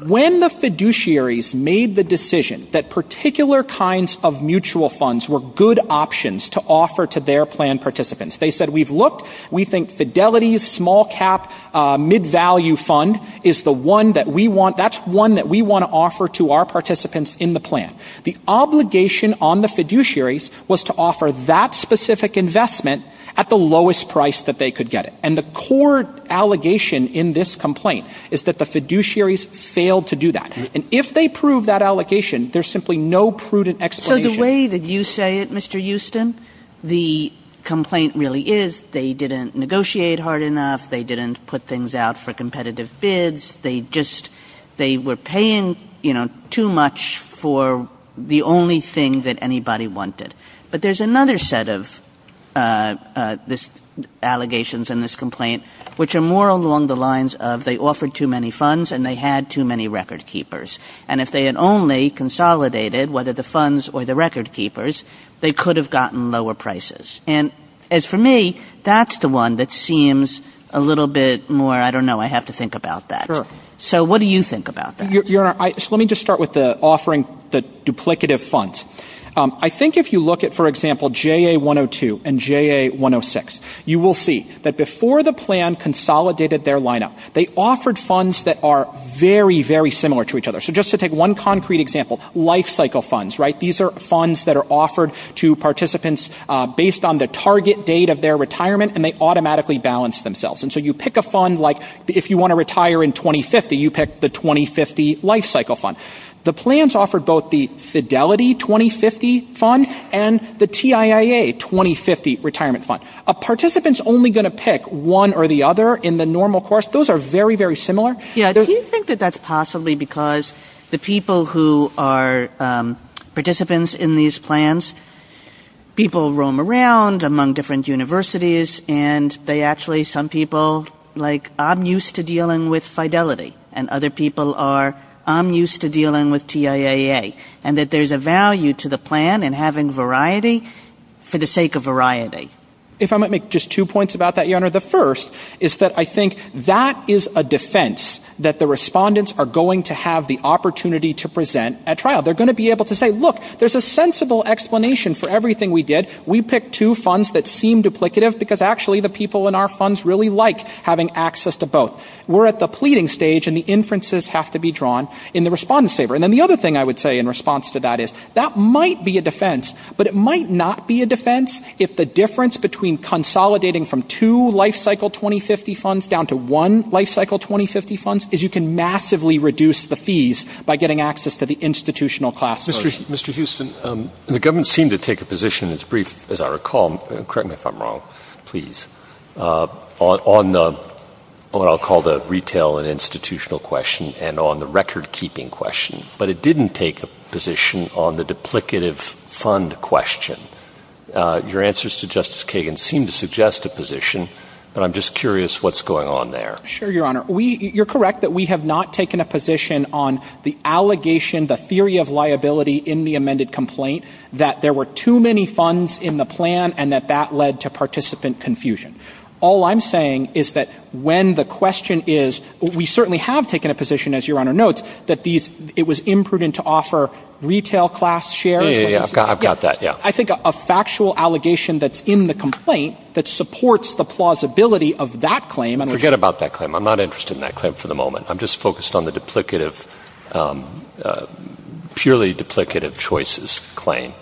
When the fiduciaries made the decision that particular kinds of mutual funds were good options to offer to their plan participants, they said, we've looked, we think fidelity, small cap, mid-value fund is the one that we want, that's one that we want to offer to our participants in the plan. The obligation on the fiduciaries was to offer that specific investment at the lowest price that they could get it. And the core allegation in this complaint is that the fiduciaries failed to do that. And if they prove that allegation, there's simply no prudent explanation. So the way that you say it, Mr. Houston, the complaint really is they didn't negotiate hard enough, they didn't put things out for competitive bids, they were paying too much for the only thing that anybody wanted. But there's another set of allegations in this complaint which are more along the lines of they offered too many funds and they had too many record keepers. And if they had only consolidated whether the funds or the record keepers, they could have gotten lower prices. And as for me, that's the one that seems a little bit more, I don't know, I have to think about that. So what do you think about that? Your Honor, let me just start with the offering the duplicative funds. I think if you look at, for example, JA-102 and JA-106, you will see that before the plan consolidated their lineup, they offered funds that are very, very similar to each other. So just to take one concrete example, life cycle funds, right? These are funds that are offered to participants based on the target date of their retirement and they automatically balance themselves. And so you pick a fund like if you want to retire in 2050, you pick the 2050 life cycle fund. The plans offer both the Fidelity 2050 fund and the TIIA 2050 retirement fund. A participant is only going to pick one or the other in the normal course. Those are very, very similar. Do you think that that's possibly because the people who are participants in these plans, people roam around among different universities and they actually, some people, like I'm used to dealing with Fidelity. And other people are, I'm used to dealing with TIIA. And that there's a value to the plan in having variety for the sake of variety. If I might make just two points about that, Your Honor. The first is that I think that is a defense that the respondents are going to have the opportunity to present at trial. They're going to be able to say, look, there's a sensible explanation for everything we did. We picked two funds that seem duplicative because actually the people in our funds really like having access to both. We're at the pleading stage and the inferences have to be drawn in the respondents' favor. And then the other thing I would say in response to that is that might be a defense, but it might not be a defense if the difference between consolidating from two life cycle 2050 funds down to one life cycle 2050 funds is you can massively reduce the fees by getting access to the institutional class. Mr. Houston, the government seemed to take a position as brief as I recall, correct me if I'm wrong, please, on what I'll call the retail and institutional question and on the record keeping question. But it didn't take a position on the duplicative fund question. Your answers to Justice Kagan seem to suggest a position, but I'm just curious what's going on there. Sure, Your Honor. You're correct that we have not taken a position on the allegation, the theory of liability in the amended complaint that there were too many funds in the plan and that that led to participant confusion. All I'm saying is that when the question is, we certainly have taken a position, as Your Honor notes, that it was imprudent to offer retail class shares. I've got that. I think a factual allegation that's in the complaint that supports the plausibility of that claim. Forget about that claim. I'm not interested in that claim for the moment. I'm just focused on the purely duplicative choices claim.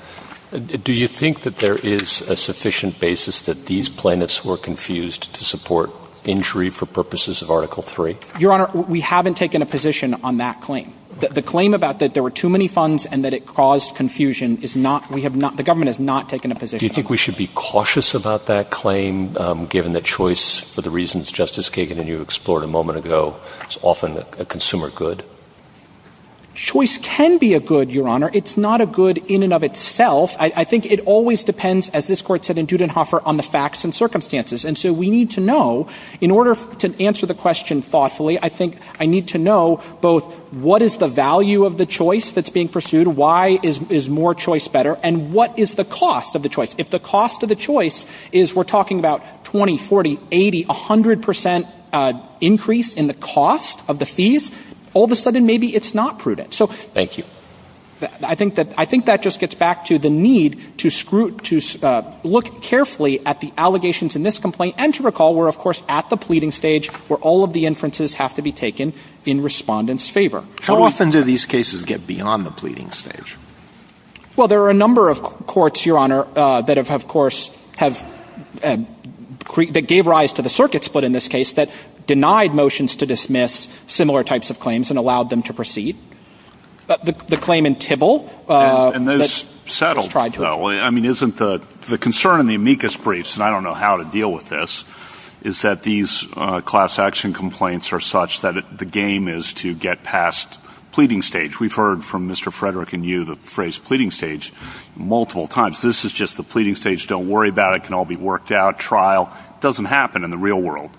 Do you think that there is a sufficient basis that these plaintiffs were confused to support injury for purposes of Article 3? Your Honor, we haven't taken a position on that claim. The claim about that there were too many funds and that it caused confusion, the government has not taken a position. Do you think we should be cautious about that claim, given that choice, for the reasons Justice Kagan and you explored a moment ago, is often a consumer good? Choice can be a good, Your Honor. It's not a good in and of itself. I think it always depends, as this Court said in Dudenhofer, on the facts and circumstances. In order to answer the question thoughtfully, I think I need to know both what is the value of the choice that's being pursued, why is more choice better, and what is the cost of the choice? If the cost of the choice is, we're talking about 20%, 40%, 80%, 100% increase in the cost of the fees, all of a sudden maybe it's not prudent. Thank you. I think that just gets back to the need to look carefully at the allegations in this complaint, and to recall, we're of course at the pleading stage, where all of the inferences have to be taken in respondents' favor. How often do these cases get beyond the pleading stage? Well, there are a number of courts, Your Honor, that gave rise to the circuit split in this case, that denied motions to dismiss similar types of claims and allowed them to proceed. The claim in Tibble- And that's settled, though. I mean, isn't the concern in the amicus briefs, and I don't know how to deal with this, is that these class action complaints are such that the game is to get past pleading stage. We've heard from Mr. Frederick and you the phrase pleading stage multiple times. This is just the pleading stage, don't worry about it, it can all be worked out, trial. It doesn't happen in the real world.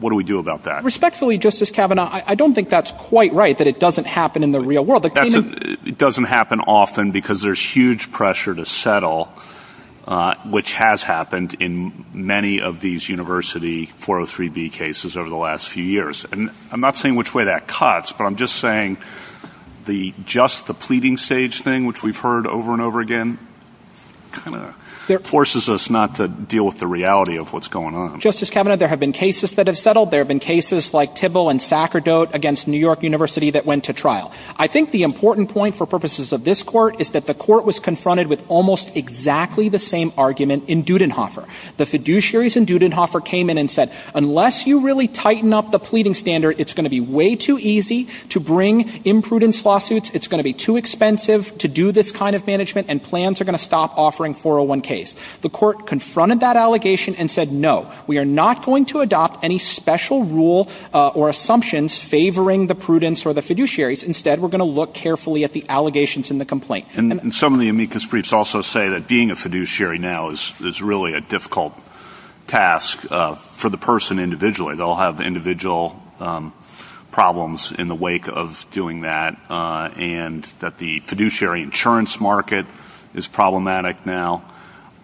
What do we do about that? Respectfully, Justice Kavanaugh, I don't think that's quite right, that it doesn't happen in the real world. It doesn't happen often because there's huge pressure to settle, which has happened in many of these university 403B cases over the last few years. And I'm not saying which way that cuts, but I'm just saying just the pleading stage thing, which we've heard over and over again, kind of forces us not to deal with the reality of what's going on. Justice Kavanaugh, there have been cases that have settled, there have been cases like Tibble and Sacerdote against New York University that went to trial. I think the important point for purposes of this court is that the court was confronted with almost exactly the same argument in Dudenhofer. The fiduciaries in Dudenhofer came in and said, unless you really tighten up the pleading standard, it's going to be way too easy to bring imprudence lawsuits, it's going to be too expensive to do this kind of management, and plans are going to stop offering 401Ks. The court confronted that allegation and said, no, we are not going to adopt any special rule or assumptions favoring the prudence or the fiduciaries. Instead, we're going to look carefully at the allegations in the complaint. Some of the amicus briefs also say that being a fiduciary now is really a difficult task for the person individually. They'll have individual problems in the wake of doing that and that the fiduciary insurance market is problematic now.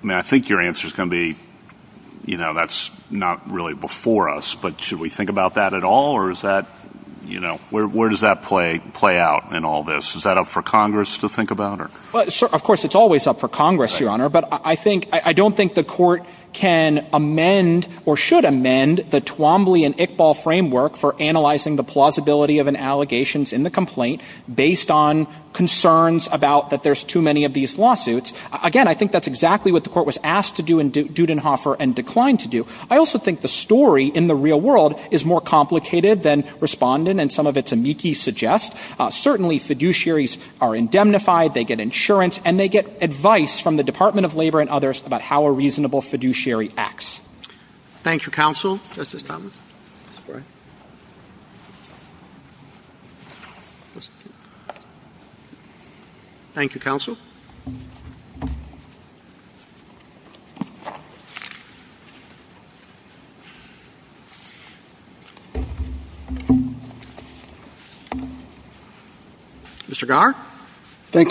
I think your answer is going to be, that's not really before us, but should we think about that at all, or where does that play out in all this? Is that up for Congress to think about? Of course it's always up for Congress, Your Honor, but I don't think the court can amend or should amend the Twombly and Iqbal framework for analyzing the plausibility of an allegation in the complaint based on concerns about that there's too many of these lawsuits. Again, I think that's exactly what the court was asked to do in Dudenhofer and declined to do. I also think the story in the real world is more complicated than Respondent and some of its amici suggest. Certainly, fiduciaries are indemnified, they get insurance, and they get advice from the Department of Labor and others about how a reasonable fiduciary acts. Thank you, counsel. Thank you,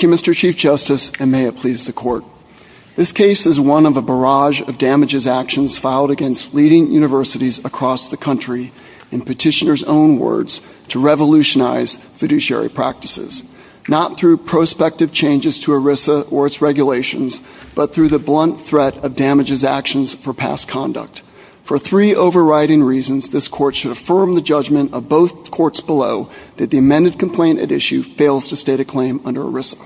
Mr. Chief Justice, and may it please the court. This case is one of a barrage of damages actions filed against leading universities across the country, in petitioner's own words, to revolutionize fiduciary practices. Not through prospective changes to ERISA or its regulations, but through the blunt threat of damages actions for past conduct. For three overriding reasons, this court should affirm the judgment of both courts below that the amended complaint at issue fails to state a claim under ERISA.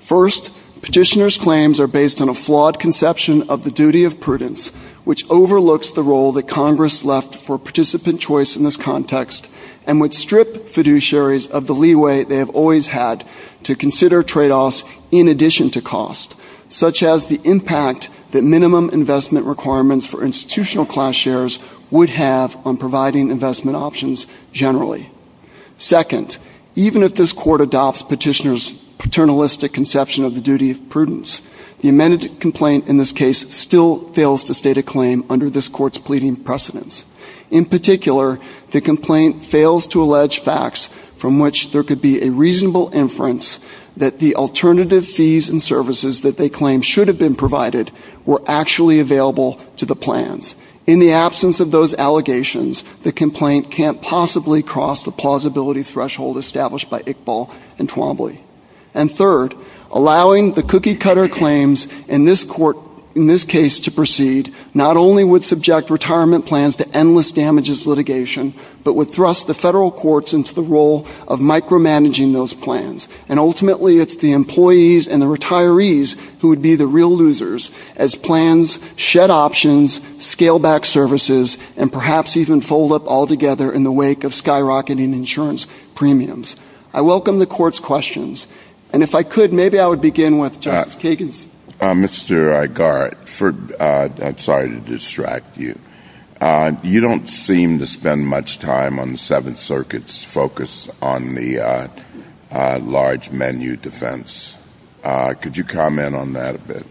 First, petitioner's claims are based on a flawed conception of the duty of prudence, which overlooks the role that Congress left for participant choice in this context, and would strip fiduciaries of the leeway they have always had to consider tradeoffs in addition to cost, such as the impact that minimum investment requirements for institutional class shares would have on providing investment options generally. Second, even if this court adopts petitioner's paternalistic conception of the duty of prudence, the amended complaint in this case still fails to state a claim under this court's pleading precedence. In particular, the complaint fails to allege facts from which there could be a reasonable inference that the alternative fees and services that they claim should have been provided were actually available to the plans. In the absence of those allegations, the complaint can't possibly cross the plausibility threshold established by Iqbal and Twombly. And third, allowing the cookie-cutter claims in this case to proceed not only would subject retirement plans to endless damages litigation, but would thrust the federal courts into the role of micromanaging those plans. And ultimately, it's the employees and the retirees who would be the real losers as plans shed options, scale back services, and perhaps even fold up altogether in the wake of skyrocketing insurance premiums. I welcome the court's questions. And if I could, maybe I would begin with Justice Kagan's. Mr. Agar, I'm sorry to distract you. You don't seem to spend much time on the Seventh Circuit's focus on the large menu defense. Could you comment on that a bit?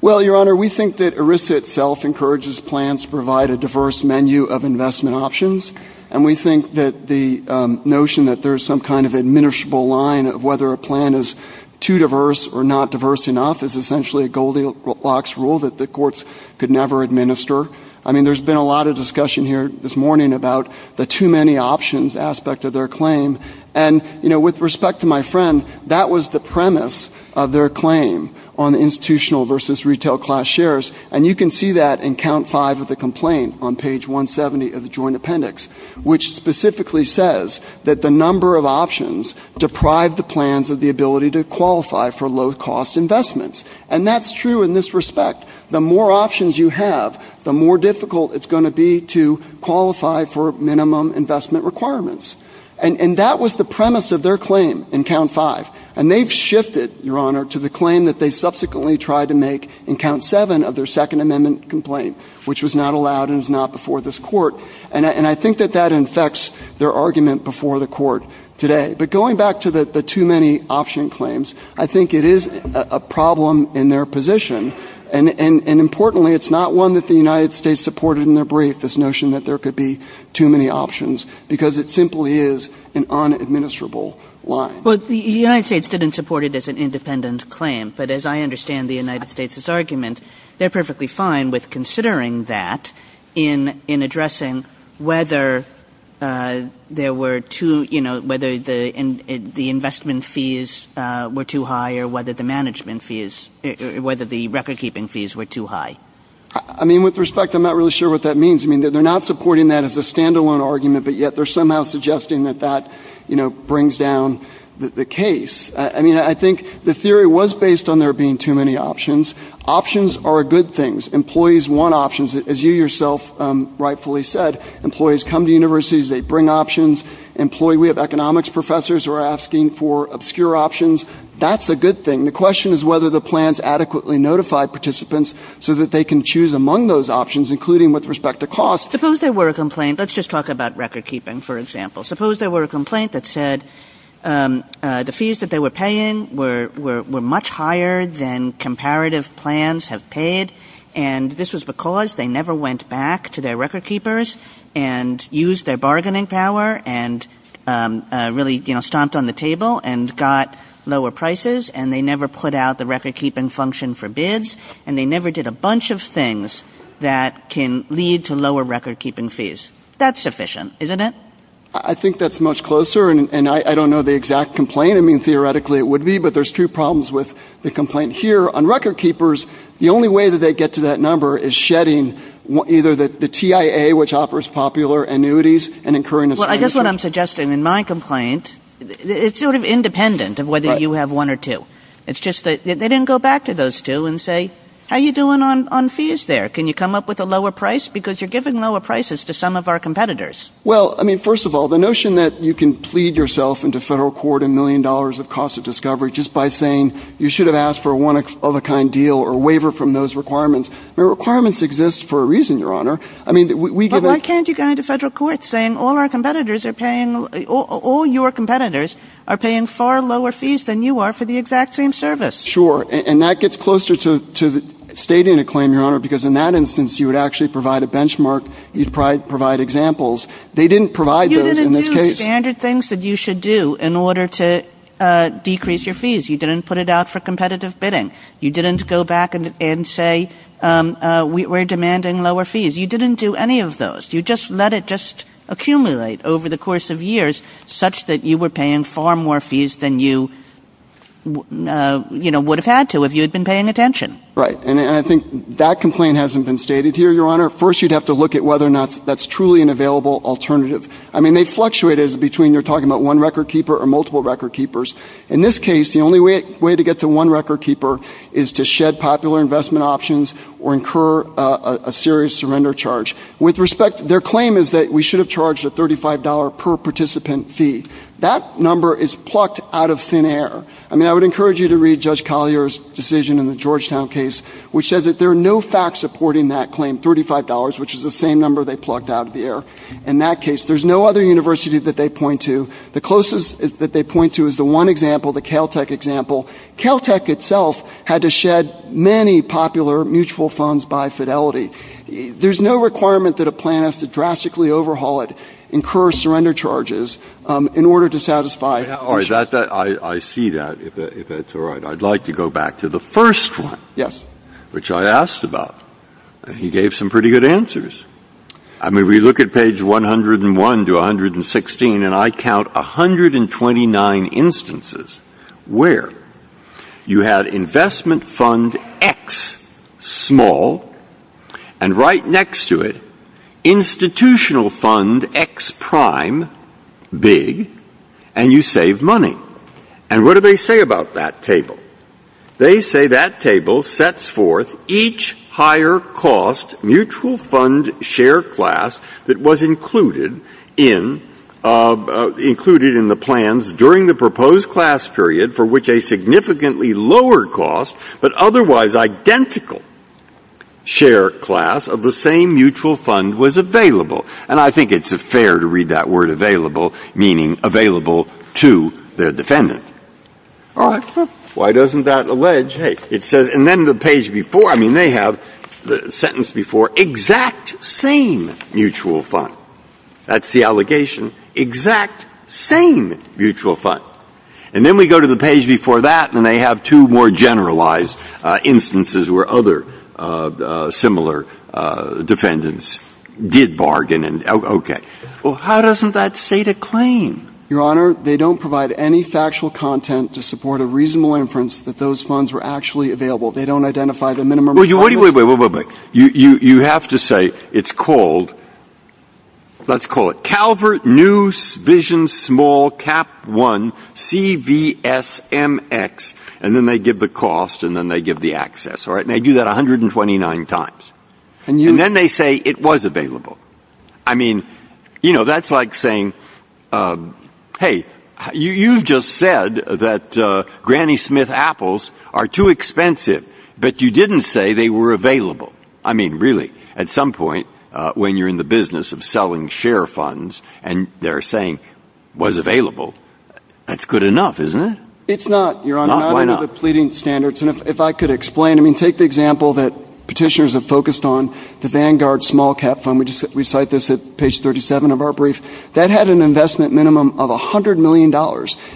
Well, Your Honor, we think that ERISA itself encourages plans to provide a diverse menu of investment options. And we think that the notion that there's some kind of administrable line of whether a plan is too diverse or not diverse enough is essentially a Goldilocks rule that the courts could never administer. I mean, there's been a lot of discussion here this morning about the too many options aspect of their claim. And, you know, with respect to my friend, that was the premise of their claim on institutional versus retail class shares. And you can see that in count five of the complaint on page 170 of the Joint Appendix, which specifically says that the number of options deprive the plans of the ability to qualify for low-cost investments. And that's true in this respect. The more options you have, the more difficult it's going to be to qualify for minimum investment requirements. And that was the premise of their claim in count five. And they've shifted, Your Honor, to the claim that they subsequently tried to make in count seven of their Second Amendment complaint, which was not allowed and is not before this court. And I think that that infects their argument before the court today. But going back to the too many option claims, I think it is a problem in their position. And importantly, it's not one that the United States supported in their brief, this notion that there could be too many options, because it simply is an unadministrable line. Well, the United States didn't support it as an independent claim. But as I understand the United States' argument, they're perfectly fine with considering that in addressing whether there were too, you know, I mean, with respect, I'm not really sure what that means. I mean, they're not supporting that as a standalone argument. But yet they're somehow suggesting that that, you know, brings down the case. I mean, I think the theory was based on there being too many options. Options are a good thing. Employees want options. As you yourself rightfully said, employees come to universities. They bring options. We have economics professors who are asking for obscure options. That's a good thing. And the question is whether the plans adequately notify participants so that they can choose among those options, including with respect to cost. Suppose there were a complaint. Let's just talk about recordkeeping, for example. Suppose there were a complaint that said the fees that they were paying were much higher than comparative plans have paid. And this was because they never went back to their recordkeepers and used their bargaining power and really, you know, stomped on the table and got lower prices, and they never put out the recordkeeping function for bids, and they never did a bunch of things that can lead to lower recordkeeping fees. That's sufficient, isn't it? I think that's much closer, and I don't know the exact complaint. I mean, theoretically it would be, but there's two problems with the complaint here. On recordkeepers, the only way that they get to that number is shedding either the TIA, which offers popular annuities, and incurring a sanction. Well, I guess what I'm suggesting in my complaint, it's sort of independent of whether you have one or two. It's just that they didn't go back to those two and say, how are you doing on fees there? Can you come up with a lower price? Because you're giving lower prices to some of our competitors. Well, I mean, first of all, the notion that you can plead yourself into federal court a million dollars of cost of discovery just by saying you should have asked for a one-of-a-kind deal or a waiver from those requirements, the requirements exist for a reason, Your Honor. But why can't you go into federal court saying all your competitors are paying far lower fees than you are for the exact same service? Sure, and that gets closer to stating a claim, Your Honor, because in that instance you would actually provide a benchmark, you'd provide examples. They didn't provide those in this case. You didn't do the standard things that you should do in order to decrease your fees. You didn't put it out for competitive bidding. You didn't go back and say we're demanding lower fees. You didn't do any of those. You just let it just accumulate over the course of years such that you were paying far more fees than you would have had to if you had been paying attention. Right, and I think that complaint hasn't been stated here, Your Honor. First, you'd have to look at whether or not that's truly an available alternative. I mean, they fluctuated between they're talking about one record keeper or multiple record keepers. In this case, the only way to get to one record keeper is to shed popular investment options or incur a serious surrender charge. With respect, their claim is that we should have charged a $35 per participant fee. That number is plucked out of thin air. I mean, I would encourage you to read Judge Collier's decision in the Georgetown case, which says that there are no facts supporting that claim, $35, which is the same number they plucked out of the air. In that case, there's no other university that they point to. The closest that they point to is the one example, the Caltech example. Caltech itself had to shed many popular mutual funds by fidelity. There's no requirement that a plan is to drastically overhaul it, incur surrender charges, in order to satisfy options. I see that, if that's all right. I'd like to go back to the first one, which I asked about, and he gave some pretty good answers. We look at page 101 to 116, and I count 129 instances where you had investment fund X, small, and right next to it, institutional fund X prime, big, and you save money. What do they say about that table? They say that table sets forth each higher cost mutual fund share class that was included in the plans during the proposed class period, for which a significantly lower cost but otherwise identical share class of the same mutual fund was available. And I think it's fair to read that word available, meaning available to their defendant. Why doesn't that allege? It says, and then the page before, I mean, they have the sentence before, exact same mutual fund. That's the allegation, exact same mutual fund. And then we go to the page before that, and they have two more generalized instances where other similar defendants did bargain. Okay. Well, how doesn't that state a claim? Your Honor, they don't provide any factual content to support a reasonable inference that those funds were actually available. They don't identify the minimum. Wait, wait, wait, wait, wait, wait. You have to say it's called, let's call it Calvert News Vision Small Cap 1 CVSMX, and then they give the cost and then they give the access, all right, and they do that 129 times. And then they say it was available. I mean, you know, that's like saying, hey, you just said that Granny Smith apples are too expensive, but you didn't say they were available. I mean, really, at some point when you're in the business of selling share funds and they're saying was available, that's good enough, isn't it? It's not, Your Honor. Why not? If I could explain. I mean, take the example that petitioners have focused on, the Vanguard Small Cap Fund. We cite this at page 37 of our brief. That had an investment minimum of $100 million.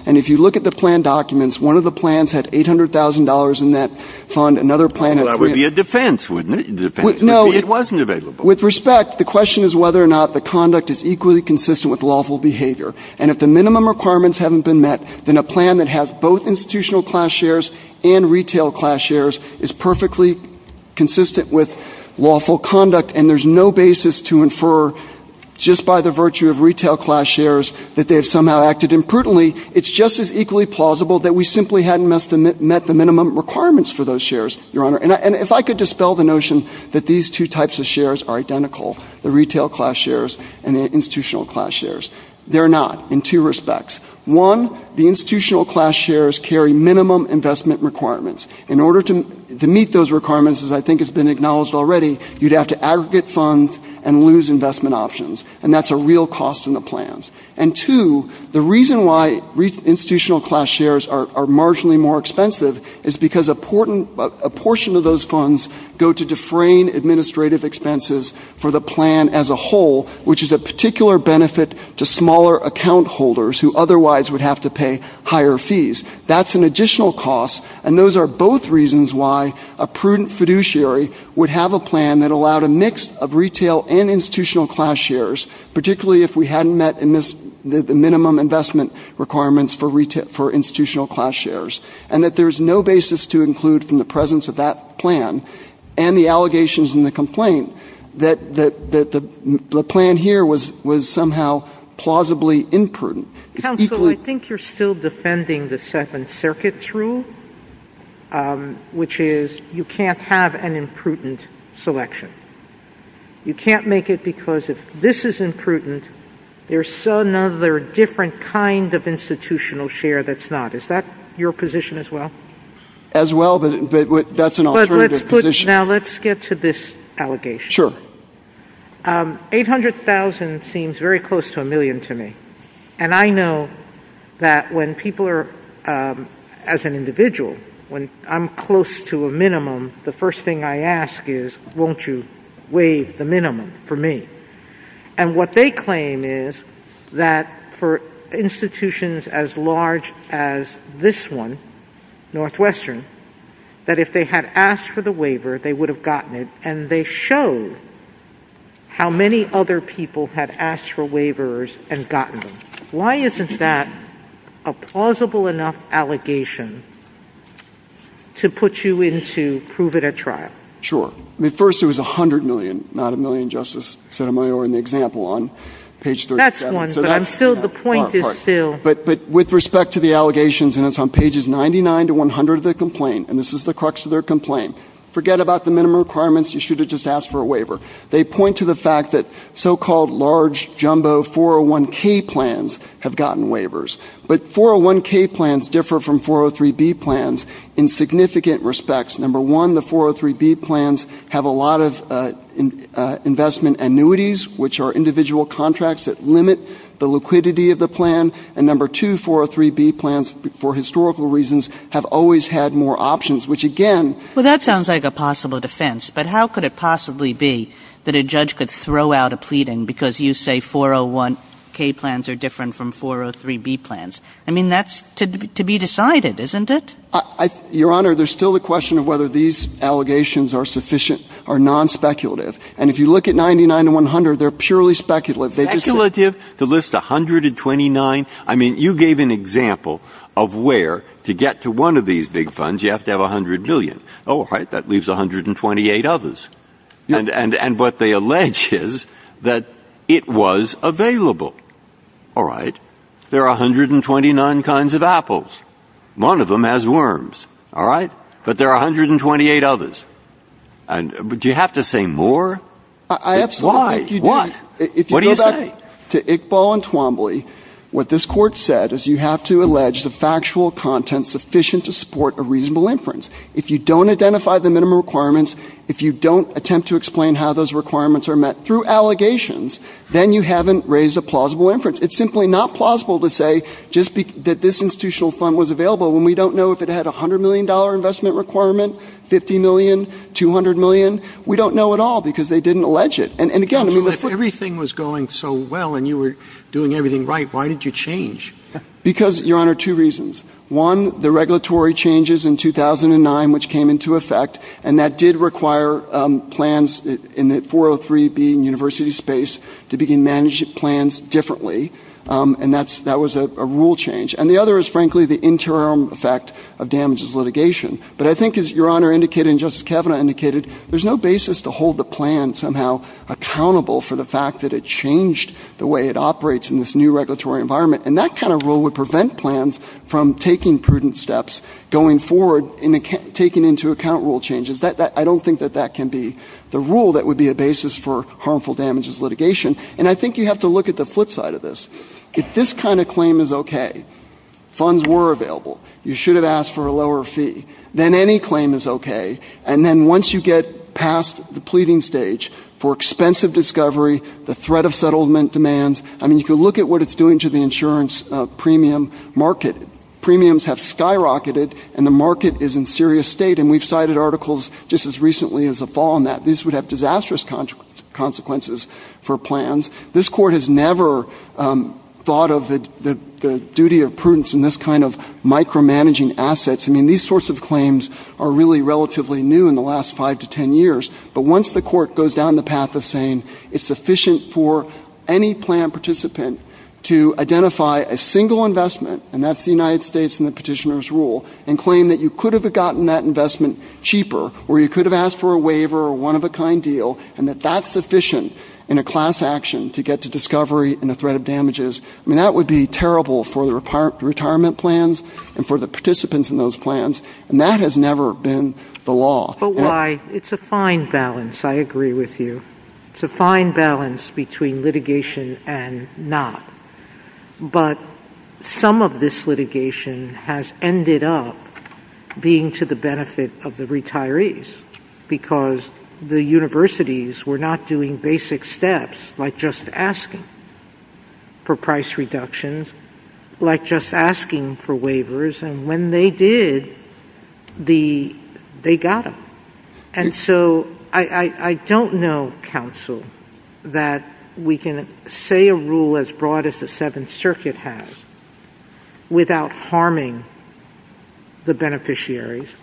And if you look at the plan documents, one of the plans had $800,000 in that fund. That would be a defense, wouldn't it? No. It wasn't available. With respect, the question is whether or not the conduct is equally consistent with lawful behavior. And if the minimum requirements haven't been met, then a plan that has both institutional class shares and retail class shares is perfectly consistent with lawful conduct. And there's no basis to infer just by the virtue of retail class shares that they have somehow acted imprudently. It's just as equally plausible that we simply hadn't met the minimum requirements for those shares, Your Honor. And if I could dispel the notion that these two types of shares are identical, the retail class shares and the institutional class shares. They're not in two respects. One, the institutional class shares carry minimum investment requirements. In order to meet those requirements, as I think has been acknowledged already, you'd have to aggregate funds and lose investment options. And that's a real cost in the plans. And two, the reason why institutional class shares are marginally more expensive is because a portion of those funds go to defraying administrative expenses for the plan as a whole, which is a particular benefit to smaller account holders who otherwise would have to pay higher fees. That's an additional cost. And those are both reasons why a prudent fiduciary would have a plan that allowed a mix of retail and institutional class shares, particularly if we hadn't met the minimum investment requirements for institutional class shares, and that there's no basis to include from the presence of that plan and the allegations in the complaint that the plan here was somehow plausibly imprudent. Counsel, I think you're still defending the Seventh Circuit's rule, which is you can't have an imprudent selection. You can't make it because if this is imprudent, there's another different kind of institutional share that's not. Is that your position as well? As well, that's an alternative position. Now, let's get to this allegation. Sure. $800,000 seems very close to a million to me, and I know that when people are, as an individual, when I'm close to a minimum, the first thing I ask is, won't you waive the minimum for me? And what they claim is that for institutions as large as this one, Northwestern, that if they had asked for the waiver, they would have gotten it, and they show how many other people had asked for waivers and gotten them. Why isn't that a plausible enough allegation to put you into proving a trial? Sure. I mean, first, it was $100 million, not a million, Justice Sotomayor, in the example on page 37. That's one, but I'm still, the point is still. But with respect to the allegations, and it's on pages 99 to 100 of the complaint, and this is the crux of their complaint, forget about the minimum requirements, you should have just asked for a waiver. They point to the fact that so-called large jumbo 401K plans have gotten waivers, but 401K plans differ from 403B plans in significant respects. Number one, the 403B plans have a lot of investment annuities, which are individual contracts that limit the liquidity of the plan, and number two, 403B plans, for historical reasons, have always had more options, which again... Well, that sounds like a possible defense, but how could it possibly be that a judge could throw out a pleading because you say 401K plans are different from 403B plans? I mean, that's to be decided, isn't it? Your Honor, there's still the question of whether these allegations are sufficient or non-speculative. And if you look at 99 to 100, they're purely speculative. Speculative? To list 129? I mean, you gave an example of where, to get to one of these big funds, you have to have $100 billion. All right, that leaves 128 others. And what they allege is that it was available. All right, there are 129 kinds of apples. One of them has worms, all right? But there are 128 others. Do you have to say more? Why? What? What do you say? To Iqbal and Twombly, what this court said is you have to allege the factual content sufficient to support a reasonable inference. If you don't identify the minimum requirements, if you don't attempt to explain how those requirements are met through allegations, then you haven't raised a plausible inference. It's simply not plausible to say that this institutional fund was available when we don't know if it had a $100 million investment requirement, $50 million, $200 million. We don't know at all because they didn't allege it. And again, if everything was going so well and you were doing everything right, why did you change? Because, Your Honor, two reasons. One, the regulatory changes in 2009, which came into effect, and that did require plans in the 403B and university space to begin managing plans differently. And that was a rule change. And the other is, frankly, the interim effect of damages litigation. But I think, as Your Honor indicated and Justice Kavanaugh indicated, there's no basis to hold the plan somehow accountable for the fact that it changed the way it operates in this new regulatory environment. And that kind of rule would prevent plans from taking prudent steps going forward and taking into account rule changes. I don't think that that can be the rule that would be a basis for harmful damages litigation. And I think you have to look at the flip side of this. If this kind of claim is okay, funds were available, you should have asked for a lower fee, then any claim is okay. And then once you get past the pleading stage for expensive discovery, the threat of settlement demands, I mean, if you look at what it's doing to the insurance premium market, premiums have skyrocketed and the market is in serious state. And we've cited articles just as recently as the fall on that. These would have disastrous consequences for plans. This Court has never thought of the duty of prudence in this kind of micromanaging assets. I mean, these sorts of claims are really relatively new in the last five to ten years. But once the Court goes down the path of saying it's sufficient for any plan participant to identify a single investment, and that's the United States and the petitioner's rule, and claim that you could have gotten that investment cheaper or you could have asked for a waiver or one-of-a-kind deal, and that that's sufficient in a class action to get to discovery and the threat of damages, I mean, that would be terrible for the retirement plans and for the participants in those plans. And that has never been the law. It's a fine balance, I agree with you. It's a fine balance between litigation and not. But some of this litigation has ended up being to the benefit of the retirees because the universities were not doing basic steps like just asking for price reductions, like just asking for waivers, and when they did, they got them. And so I don't know, counsel, that we can say a rule as broad as the Seventh Circuit has without harming the beneficiaries.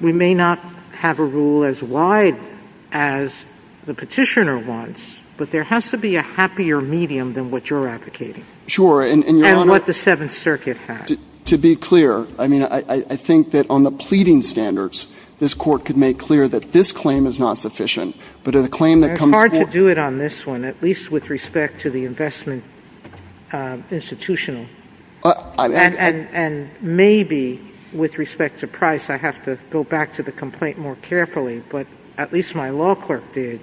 We may not have a rule as wide as the petitioner wants, but there has to be a happier medium than what you're advocating and what the Seventh Circuit has. To be clear, I mean, I think that on the pleading standards, this Court could make clear that this claim is not sufficient, but in a claim that comes forth... It's hard to do it on this one, at least with respect to the investment institution. And maybe with respect to price, I have to go back to the complaint more carefully, but at least my law clerk did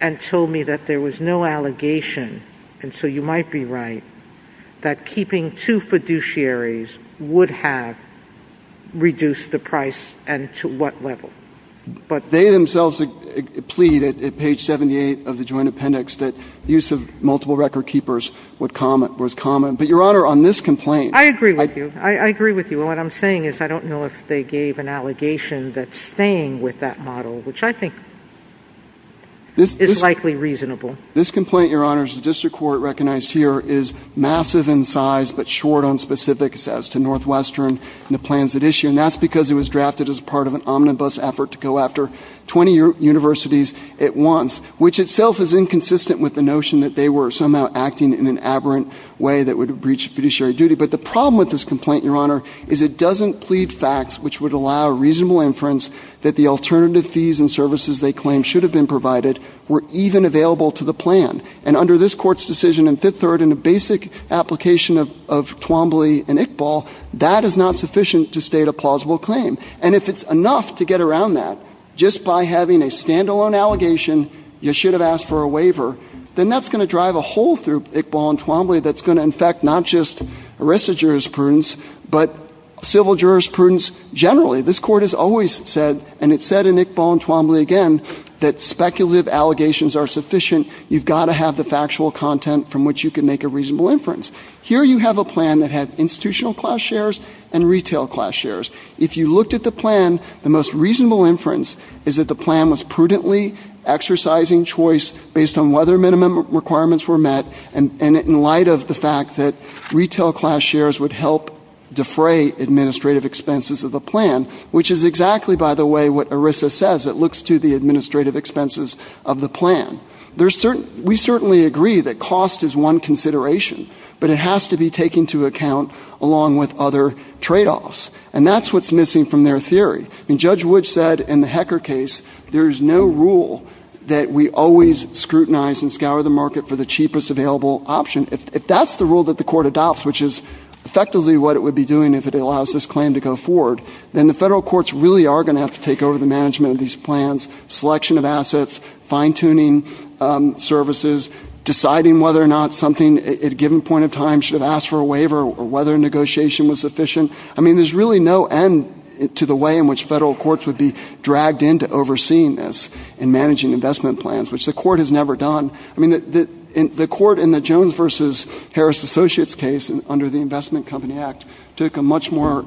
and told me that there was no allegation, and so you might be right, that keeping two fiduciaries would have reduced the price and to what level. But they themselves plead at page 78 of the Joint Appendix that use of multiple record keepers was common. But, Your Honor, on this complaint... I agree with you. I agree with you. What I'm saying is I don't know if they gave an allegation that's staying with that model, which I think is likely reasonable. This complaint, Your Honor, as the District Court recognized here, is massive in size but short on specific as to Northwestern and the plans at issue, and that's because it was drafted as part of an omnibus effort to go after 20 universities at once, which itself is inconsistent with the notion that they were somehow acting in an aberrant way that would have breached fiduciary duty. But the problem with this complaint, Your Honor, is it doesn't plead facts which would allow a reasonable inference that the alternative fees and services they claim should have been provided were even available to the plan. And under this Court's decision in Fifth Third, in the basic application of Twombly and Iqbal, that is not sufficient to state a plausible claim. And if it's enough to get around that just by having a standalone allegation, you should have asked for a waiver, then that's going to drive a hole through Iqbal and Twombly that's going to infect not just the rest of jurisprudence but civil jurisprudence generally. This Court has always said, and it said in Iqbal and Twombly again, that speculative allegations are sufficient. You've got to have the factual content from which you can make a reasonable inference. Here you have a plan that has institutional class shares and retail class shares. If you looked at the plan, the most reasonable inference is that the plan was prudently exercising choice based on whether minimum requirements were met and in light of the fact that retail class shares would help defray administrative expenses of the plan, which is exactly, by the way, what ERISA says. It looks to the administrative expenses of the plan. We certainly agree that cost is one consideration, but it has to be taken into account along with other tradeoffs. And that's what's missing from their theory. I mean, Judge Wood said in the Hecker case there is no rule that we always scrutinize and scour the market for the cheapest available option. If that's the rule that the Court adopts, which is effectively what it would be doing if it allows this claim to go forward, then the federal courts really are going to have to take over the management of these plans, selection of assets, fine-tuning services, deciding whether or not something at a given point in time should ask for a waiver or whether negotiation was sufficient. I mean, there's really no end to the way in which federal courts would be dragged into overseeing this and managing investment plans, which the Court has never done. I mean, the Court in the Jones v. Harris Associates case under the Investment Company Act took a much more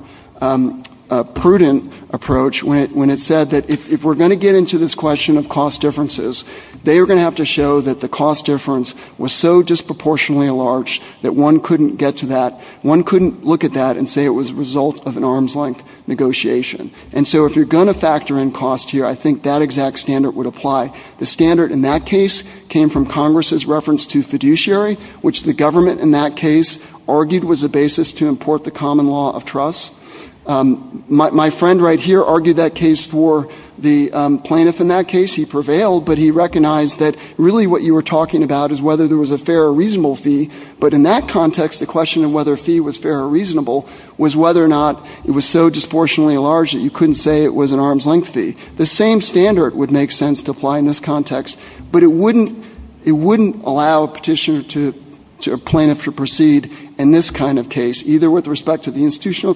prudent approach when it said that if we're going to get into this question of cost differences, they are going to have to show that the cost difference was so disproportionately large that one couldn't get to that. One couldn't look at that and say it was a result of an arm's-length negotiation. And so if you're going to factor in cost here, I think that exact standard would apply. The standard in that case came from Congress's reference to fiduciary, which the government in that case argued was the basis to import the common law of trust. My friend right here argued that case for the plaintiff in that case. He prevailed, but he recognized that really what you were talking about is whether there was a fair or reasonable fee. But in that context, the question of whether a fee was fair or reasonable was whether or not it was so disproportionately large that you couldn't say it was an arm's-length fee. The same standard would make sense to apply in this context, but it wouldn't allow a petitioner to a plaintiff to proceed in this kind of case, either with respect to the institutional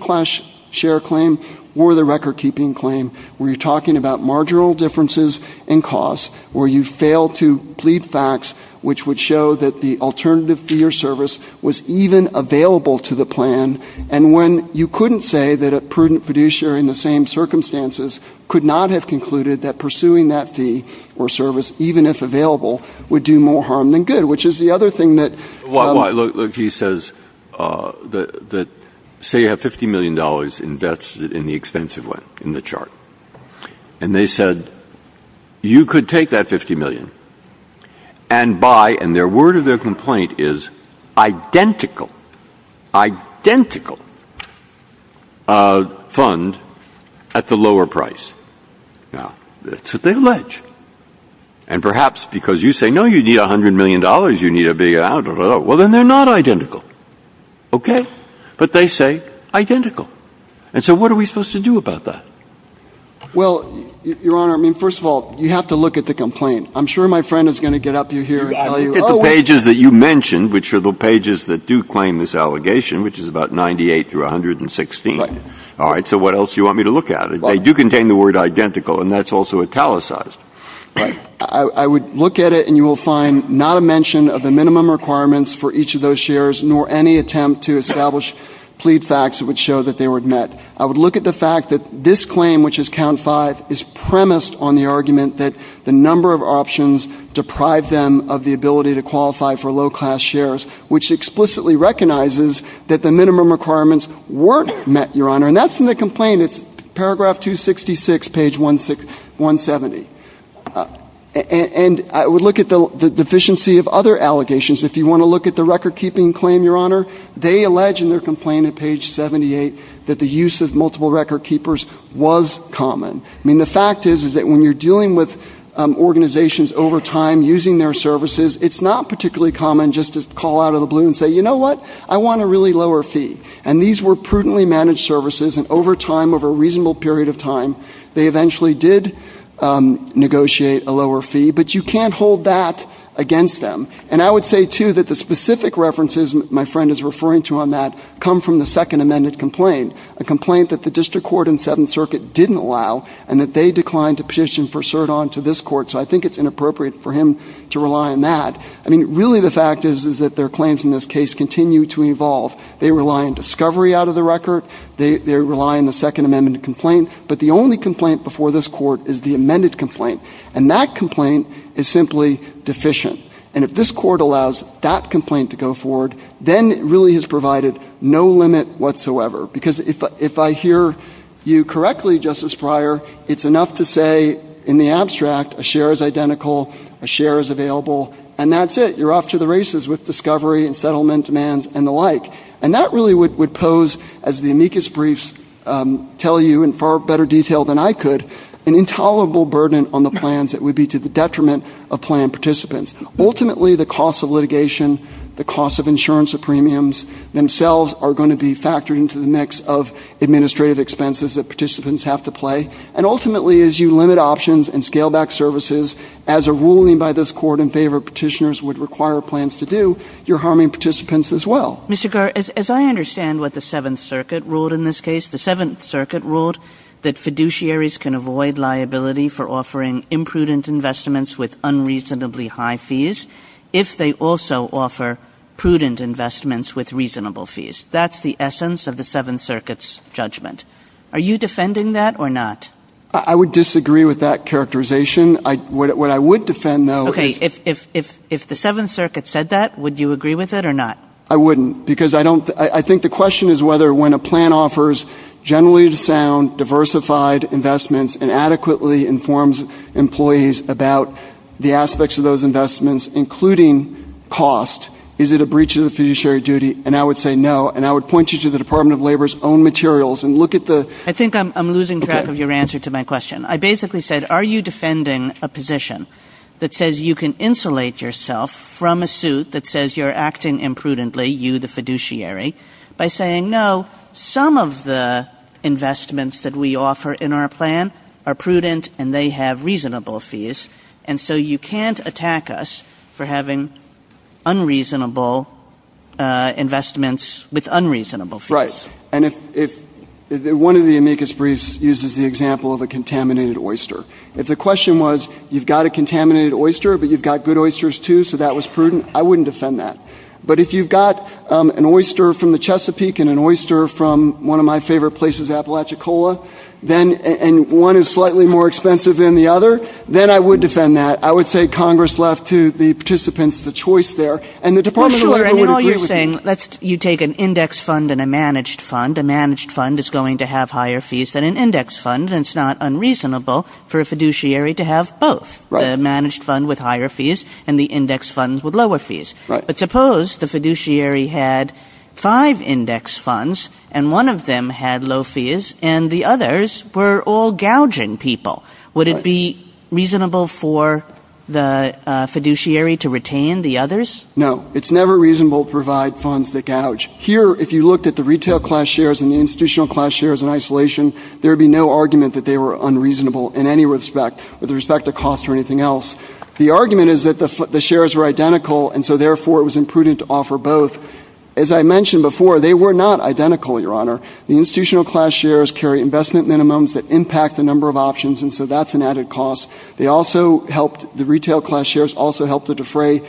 share claim or the record-keeping claim, where you're talking about marginal differences in cost, where you fail to plead facts which would show that the alternative fee or service was even available to the plan, and when you couldn't say that a prudent fiduciary in the same circumstances could not have concluded that pursuing that fee or service, even if available, would do more harm than good, which is the other thing that— Look, he says that say you have $50 million invested in the expensive one in the chart, and they said you could take that $50 million and buy—and their word of their complaint is identical, identical fund at the lower price. Now, that's what they allege. And perhaps because you say, no, you need $100 million, you need a big amount, well, then they're not identical, okay? But they say identical. And so what are we supposed to do about that? Well, Your Honor, I mean, first of all, you have to look at the complaint. I'm sure my friend is going to get up to you here and tell you— It's the pages that you mentioned, which are the pages that do claim this allegation, which is about 98 through 116. All right, so what else do you want me to look at? They do contain the word identical, and that's also italicized. I would look at it, and you will find not a mention of the minimum requirements for each of those shares nor any attempt to establish plea facts that would show that they were met. I would look at the fact that this claim, which is count five, is premised on the argument that the number of options deprive them of the ability to qualify for low-class shares, which explicitly recognizes that the minimum requirements weren't met, Your Honor. And that's in the complaint. It's paragraph 266, page 170. And I would look at the deficiency of other allegations. If you want to look at the record-keeping claim, Your Honor, they allege in their complaint at page 78 that the use of multiple record-keepers was common. I mean, the fact is that when you're dealing with organizations over time using their services, it's not particularly common just to call out of the blue and say, you know what, I want a really lower fee. And these were prudently managed services, and over time, over a reasonable period of time, they eventually did negotiate a lower fee. But you can't hold that against them. And I would say, too, that the specific references my friend is referring to on that come from the Second Amendment complaint, a complaint that the District Court and Seventh Circuit didn't allow and that they declined to petition for cert on to this Court. So I think it's inappropriate for him to rely on that. I mean, really the fact is that their claims in this case continue to evolve. They rely on discovery out of the record. They rely on the Second Amendment complaint. But the only complaint before this Court is the amended complaint. And that complaint is simply deficient. And if this Court allows that complaint to go forward, then it really has provided no limit whatsoever. Because if I hear you correctly, Justice Breyer, it's enough to say in the abstract a share is identical, a share is available, and that's it, you're off to the races with discovery and settlement demands and the like. And that really would pose, as the amicus briefs tell you in far better detail than I could, an intolerable burden on the plans that would be to the detriment of plan participants. Ultimately, the cost of litigation, the cost of insurance and premiums themselves are going to be factored into the mix of administrative expenses that participants have to pay. And ultimately, as you limit options and scale back services, as a ruling by this Court in favor of petitioners would require plans to do, you're harming participants as well. Mr. Garrett, as I understand what the Seventh Circuit ruled in this case, the Seventh Circuit ruled that fiduciaries can avoid liability for offering imprudent investments with unreasonably high fees if they also offer prudent investments with reasonable fees. That's the essence of the Seventh Circuit's judgment. Are you defending that or not? I would disagree with that characterization. What I would defend, though, is... Okay, if the Seventh Circuit said that, would you agree with it or not? I wouldn't, because I think the question is whether when a plan offers generally sound, diversified investments and adequately informs employees about the aspects of those investments, including cost, is it a breach of the fiduciary duty? And I would say no. And I would point you to the Department of Labor's own materials and look at the... I think I'm losing track of your answer to my question. I basically said, are you defending a position that says you can insulate yourself from a suit that says you're acting imprudently, you the fiduciary, by saying, no, some of the investments that we offer in our plan are prudent and they have reasonable fees, and so you can't attack us for having unreasonable investments with unreasonable fees. Right. And one of the amicus briefs uses the example of a contaminated oyster. If the question was, you've got a contaminated oyster, but you've got good oysters, too, so that was prudent, I wouldn't defend that. But if you've got an oyster from the Chesapeake and an oyster from one of my favorite places, Apalachicola, and one is slightly more expensive than the other, then I would defend that. I would say Congress left to the participants the choice there. And the Department of Labor would agree with you. Well, sure, and all you're saying, you take an index fund and a managed fund. A managed fund is going to have higher fees than an index fund, and it's not unreasonable for a fiduciary to have both. Right. Right. But suppose the fiduciary had five index funds and one of them had low fees and the others were all gouging people. Would it be reasonable for the fiduciary to retain the others? No, it's never reasonable to provide funds that gouge. Here, if you looked at the retail class shares and the institutional class shares in isolation, there would be no argument that they were unreasonable in any respect, with respect to cost or anything else. The argument is that the shares are identical, and so, therefore, it was imprudent to offer both. As I mentioned before, they were not identical, Your Honor. The institutional class shares carry investment minimums that impact the number of options, and so that's an added cost. The retail class shares also help to defray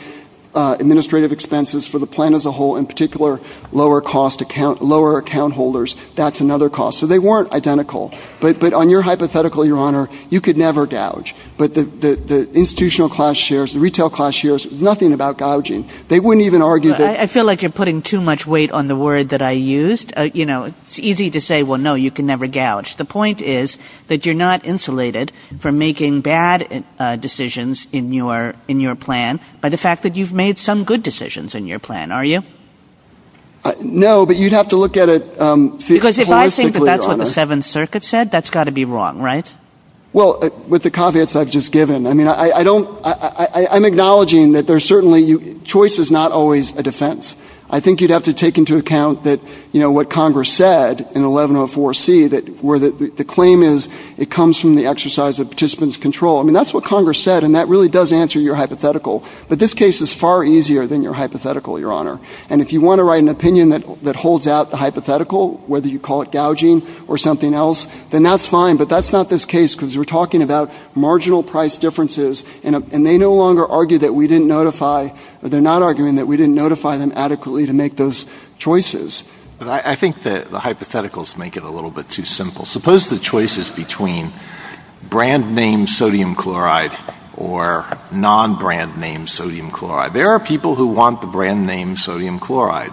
administrative expenses for the plan as a whole, in particular, lower account holders. That's another cost. So they weren't identical. But on your hypothetical, Your Honor, you could never gouge. But the institutional class shares, the retail class shares, nothing about gouging. They wouldn't even argue that... I feel like you're putting too much weight on the word that I used. You know, it's easy to say, well, no, you can never gouge. The point is that you're not insulated from making bad decisions in your plan by the fact that you've made some good decisions in your plan, are you? No, but you'd have to look at it... Because if I think that that's what the Seventh Circuit said, that's got to be wrong, right? Well, with the caveats I've just given, I mean, I don't... I'm acknowledging that there's certainly... Choice is not always a defense. I think you'd have to take into account that, you know, what Congress said in 1104C, where the claim is it comes from the exercise of participants' control. I mean, that's what Congress said, and that really does answer your hypothetical. But this case is far easier than your hypothetical, Your Honor. And if you want to write an opinion that holds out the hypothetical, whether you call it gouging or something else, then that's fine. But that's not this case, because we're talking about marginal price differences, and they no longer argue that we didn't notify... They're not arguing that we didn't notify them adequately to make those choices. But I think that the hypotheticals make it a little bit too simple. Suppose the choice is between brand-name sodium chloride or non-brand-name sodium chloride. There are people who want the brand-name sodium chloride.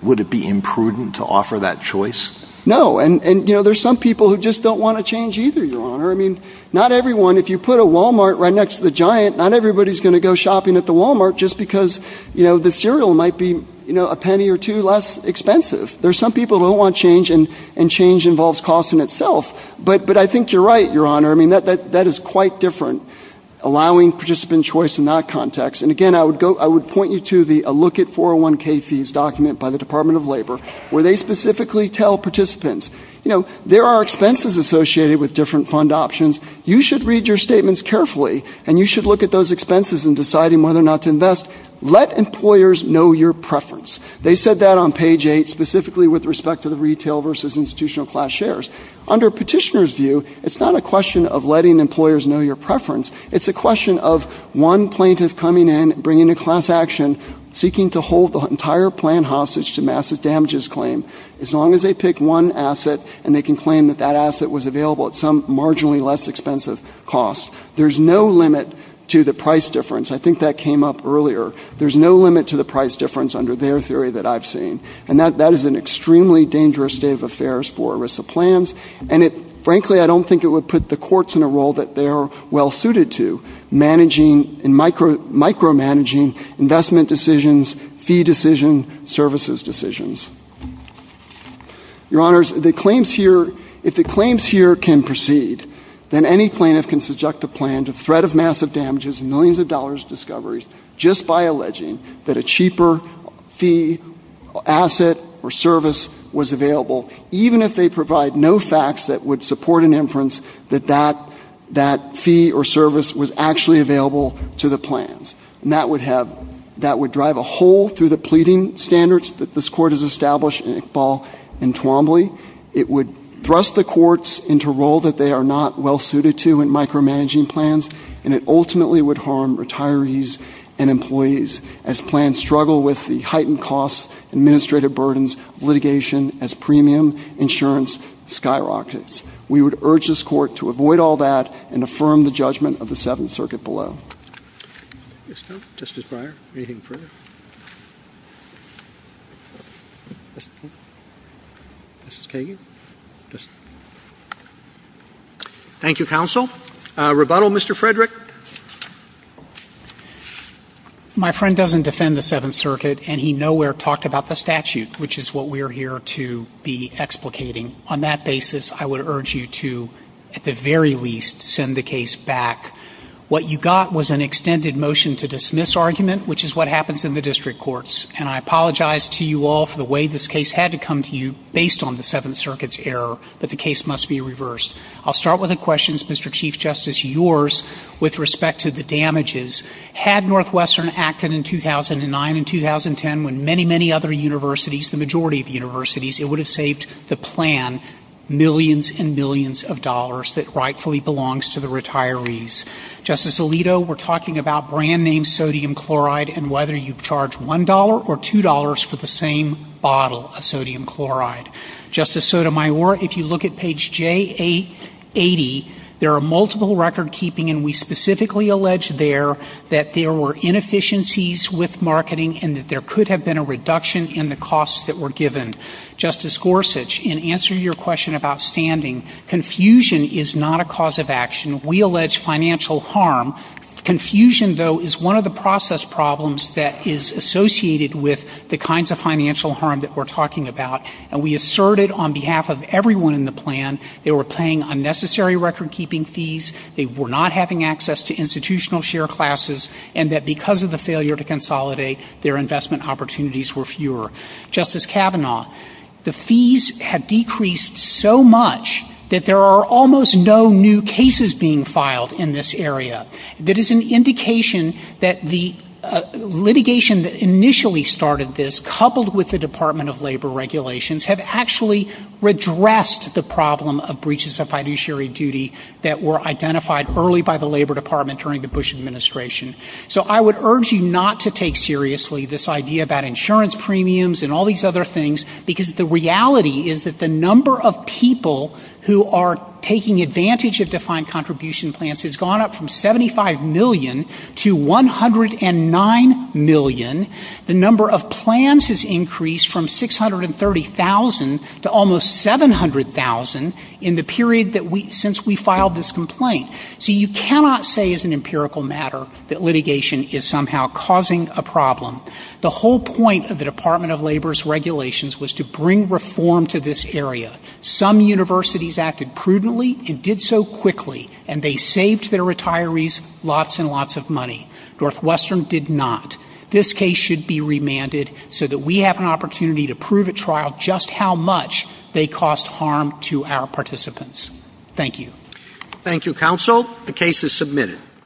Would it be imprudent to offer that choice? No, and, you know, there are some people who just don't want to change either, Your Honor. I mean, not everyone, if you put a Walmart right next to the Giant, not everybody is going to go shopping at the Walmart just because, you know, the cereal might be a penny or two less expensive. There are some people who don't want change, and change involves cost in itself. But I think you're right, Your Honor. I mean, that is quite different, allowing participant choice in that context. And, again, I would point you to the Look at 401K fees document by the Department of Labor, where they specifically tell participants, you know, there are expenses associated with different fund options. You should read your statements carefully, and you should look at those expenses in deciding whether or not to invest. Let employers know your preference. They said that on page 8, specifically with respect to the retail versus institutional class shares. Under a petitioner's view, it's not a question of letting employers know your preference. It's a question of one plaintiff coming in, bringing a class action, seeking to hold the entire plan hostage to massive damages claim. As long as they pick one asset, and they can claim that that asset was available at some marginally less expensive cost. There's no limit to the price difference. I think that came up earlier. There's no limit to the price difference under their theory that I've seen. And that is an extremely dangerous state of affairs for ERISA plans. And, frankly, I don't think it would put the courts in a role that they're well-suited to, managing and micromanaging investment decisions, fee decisions, services decisions. Your Honors, the claims here, if the claims here can proceed, then any plaintiff can subject the plan to threat of massive damages, millions of dollars discoveries, just by alleging that a cheaper fee, asset, or service was available, even if they provide no facts that would support an inference that that fee or service was actually available to the plans. And that would drive a hole through the pleading standards that this Court has established in Iqbal and Twombly. It would thrust the courts into a role that they are not well-suited to in micromanaging plans, and it ultimately would harm retirees and employees as plans struggle with the heightened costs, administrative burdens, litigation, as premium insurance skyrockets. We would urge this Court to avoid all that and affirm the judgment of the Seventh Circuit below. MR. GOTTLIEB. Mr. Justice Breyer, anything further? Mrs. Kagan? Thank you, Counsel. Rebuttal, Mr. Frederick? MR. FREDERICK. My friend doesn't defend the Seventh Circuit, and he nowhere talked about the statute, which is what we are here to be explicating. On that basis, I would urge you to, at the very least, send the case back. What you got was an extended motion to dismiss argument, which is what happens in the district courts. And I apologize to you all for the way this case had to come to you based on the Seventh Circuit's error, but the case must be reversed. I'll start with a question, Mr. Chief Justice, yours, with respect to the damages. Had Northwestern acted in 2009 and 2010 when many, many other universities, the majority of universities, it would have saved the plan millions and millions of dollars that rightfully belongs to the retirees. Justice Alito, we're talking about brand-name sodium chloride and whether you charge $1 or $2 for the same bottle of sodium chloride. Justice Sotomayor, if you look at page J80, there are multiple record-keeping, and we specifically allege there that there were inefficiencies with marketing and that there could have been a reduction in the costs that were given. Justice Gorsuch, in answer to your question about standing, confusion is not a cause of action. We allege financial harm. Confusion, though, is one of the process problems that is associated with the kinds of financial harm that we're talking about, and we asserted on behalf of everyone in the plan they were paying unnecessary record-keeping fees, they were not having access to institutional share classes, and that because of the failure to consolidate, their investment opportunities were fewer. Justice Kavanaugh, the fees have decreased so much that there are almost no new cases being filed in this area. That is an indication that the litigation that initially started this, coupled with the Department of Labor regulations, have actually redressed the problem of breaches of fiduciary duty that were identified early by the Labor Department during the Bush administration. So I would urge you not to take seriously this idea about insurance premiums and all these other things, because the reality is that the number of people who are taking advantage of defined contribution plans has gone up from 75 million to 109 million. The number of plans has increased from 630,000 to almost 700,000 in the period since we filed this complaint. So you cannot say as an empirical matter that litigation is somehow causing a problem. The whole point of the Department of Labor's regulations was to bring reform to this area. Some universities acted prudently and did so quickly, and they saved their retirees lots and lots of money. Northwestern did not. This case should be remanded so that we have an opportunity to prove at trial just how much they caused harm to our participants. Thank you. Thank you, counsel. The case is submitted.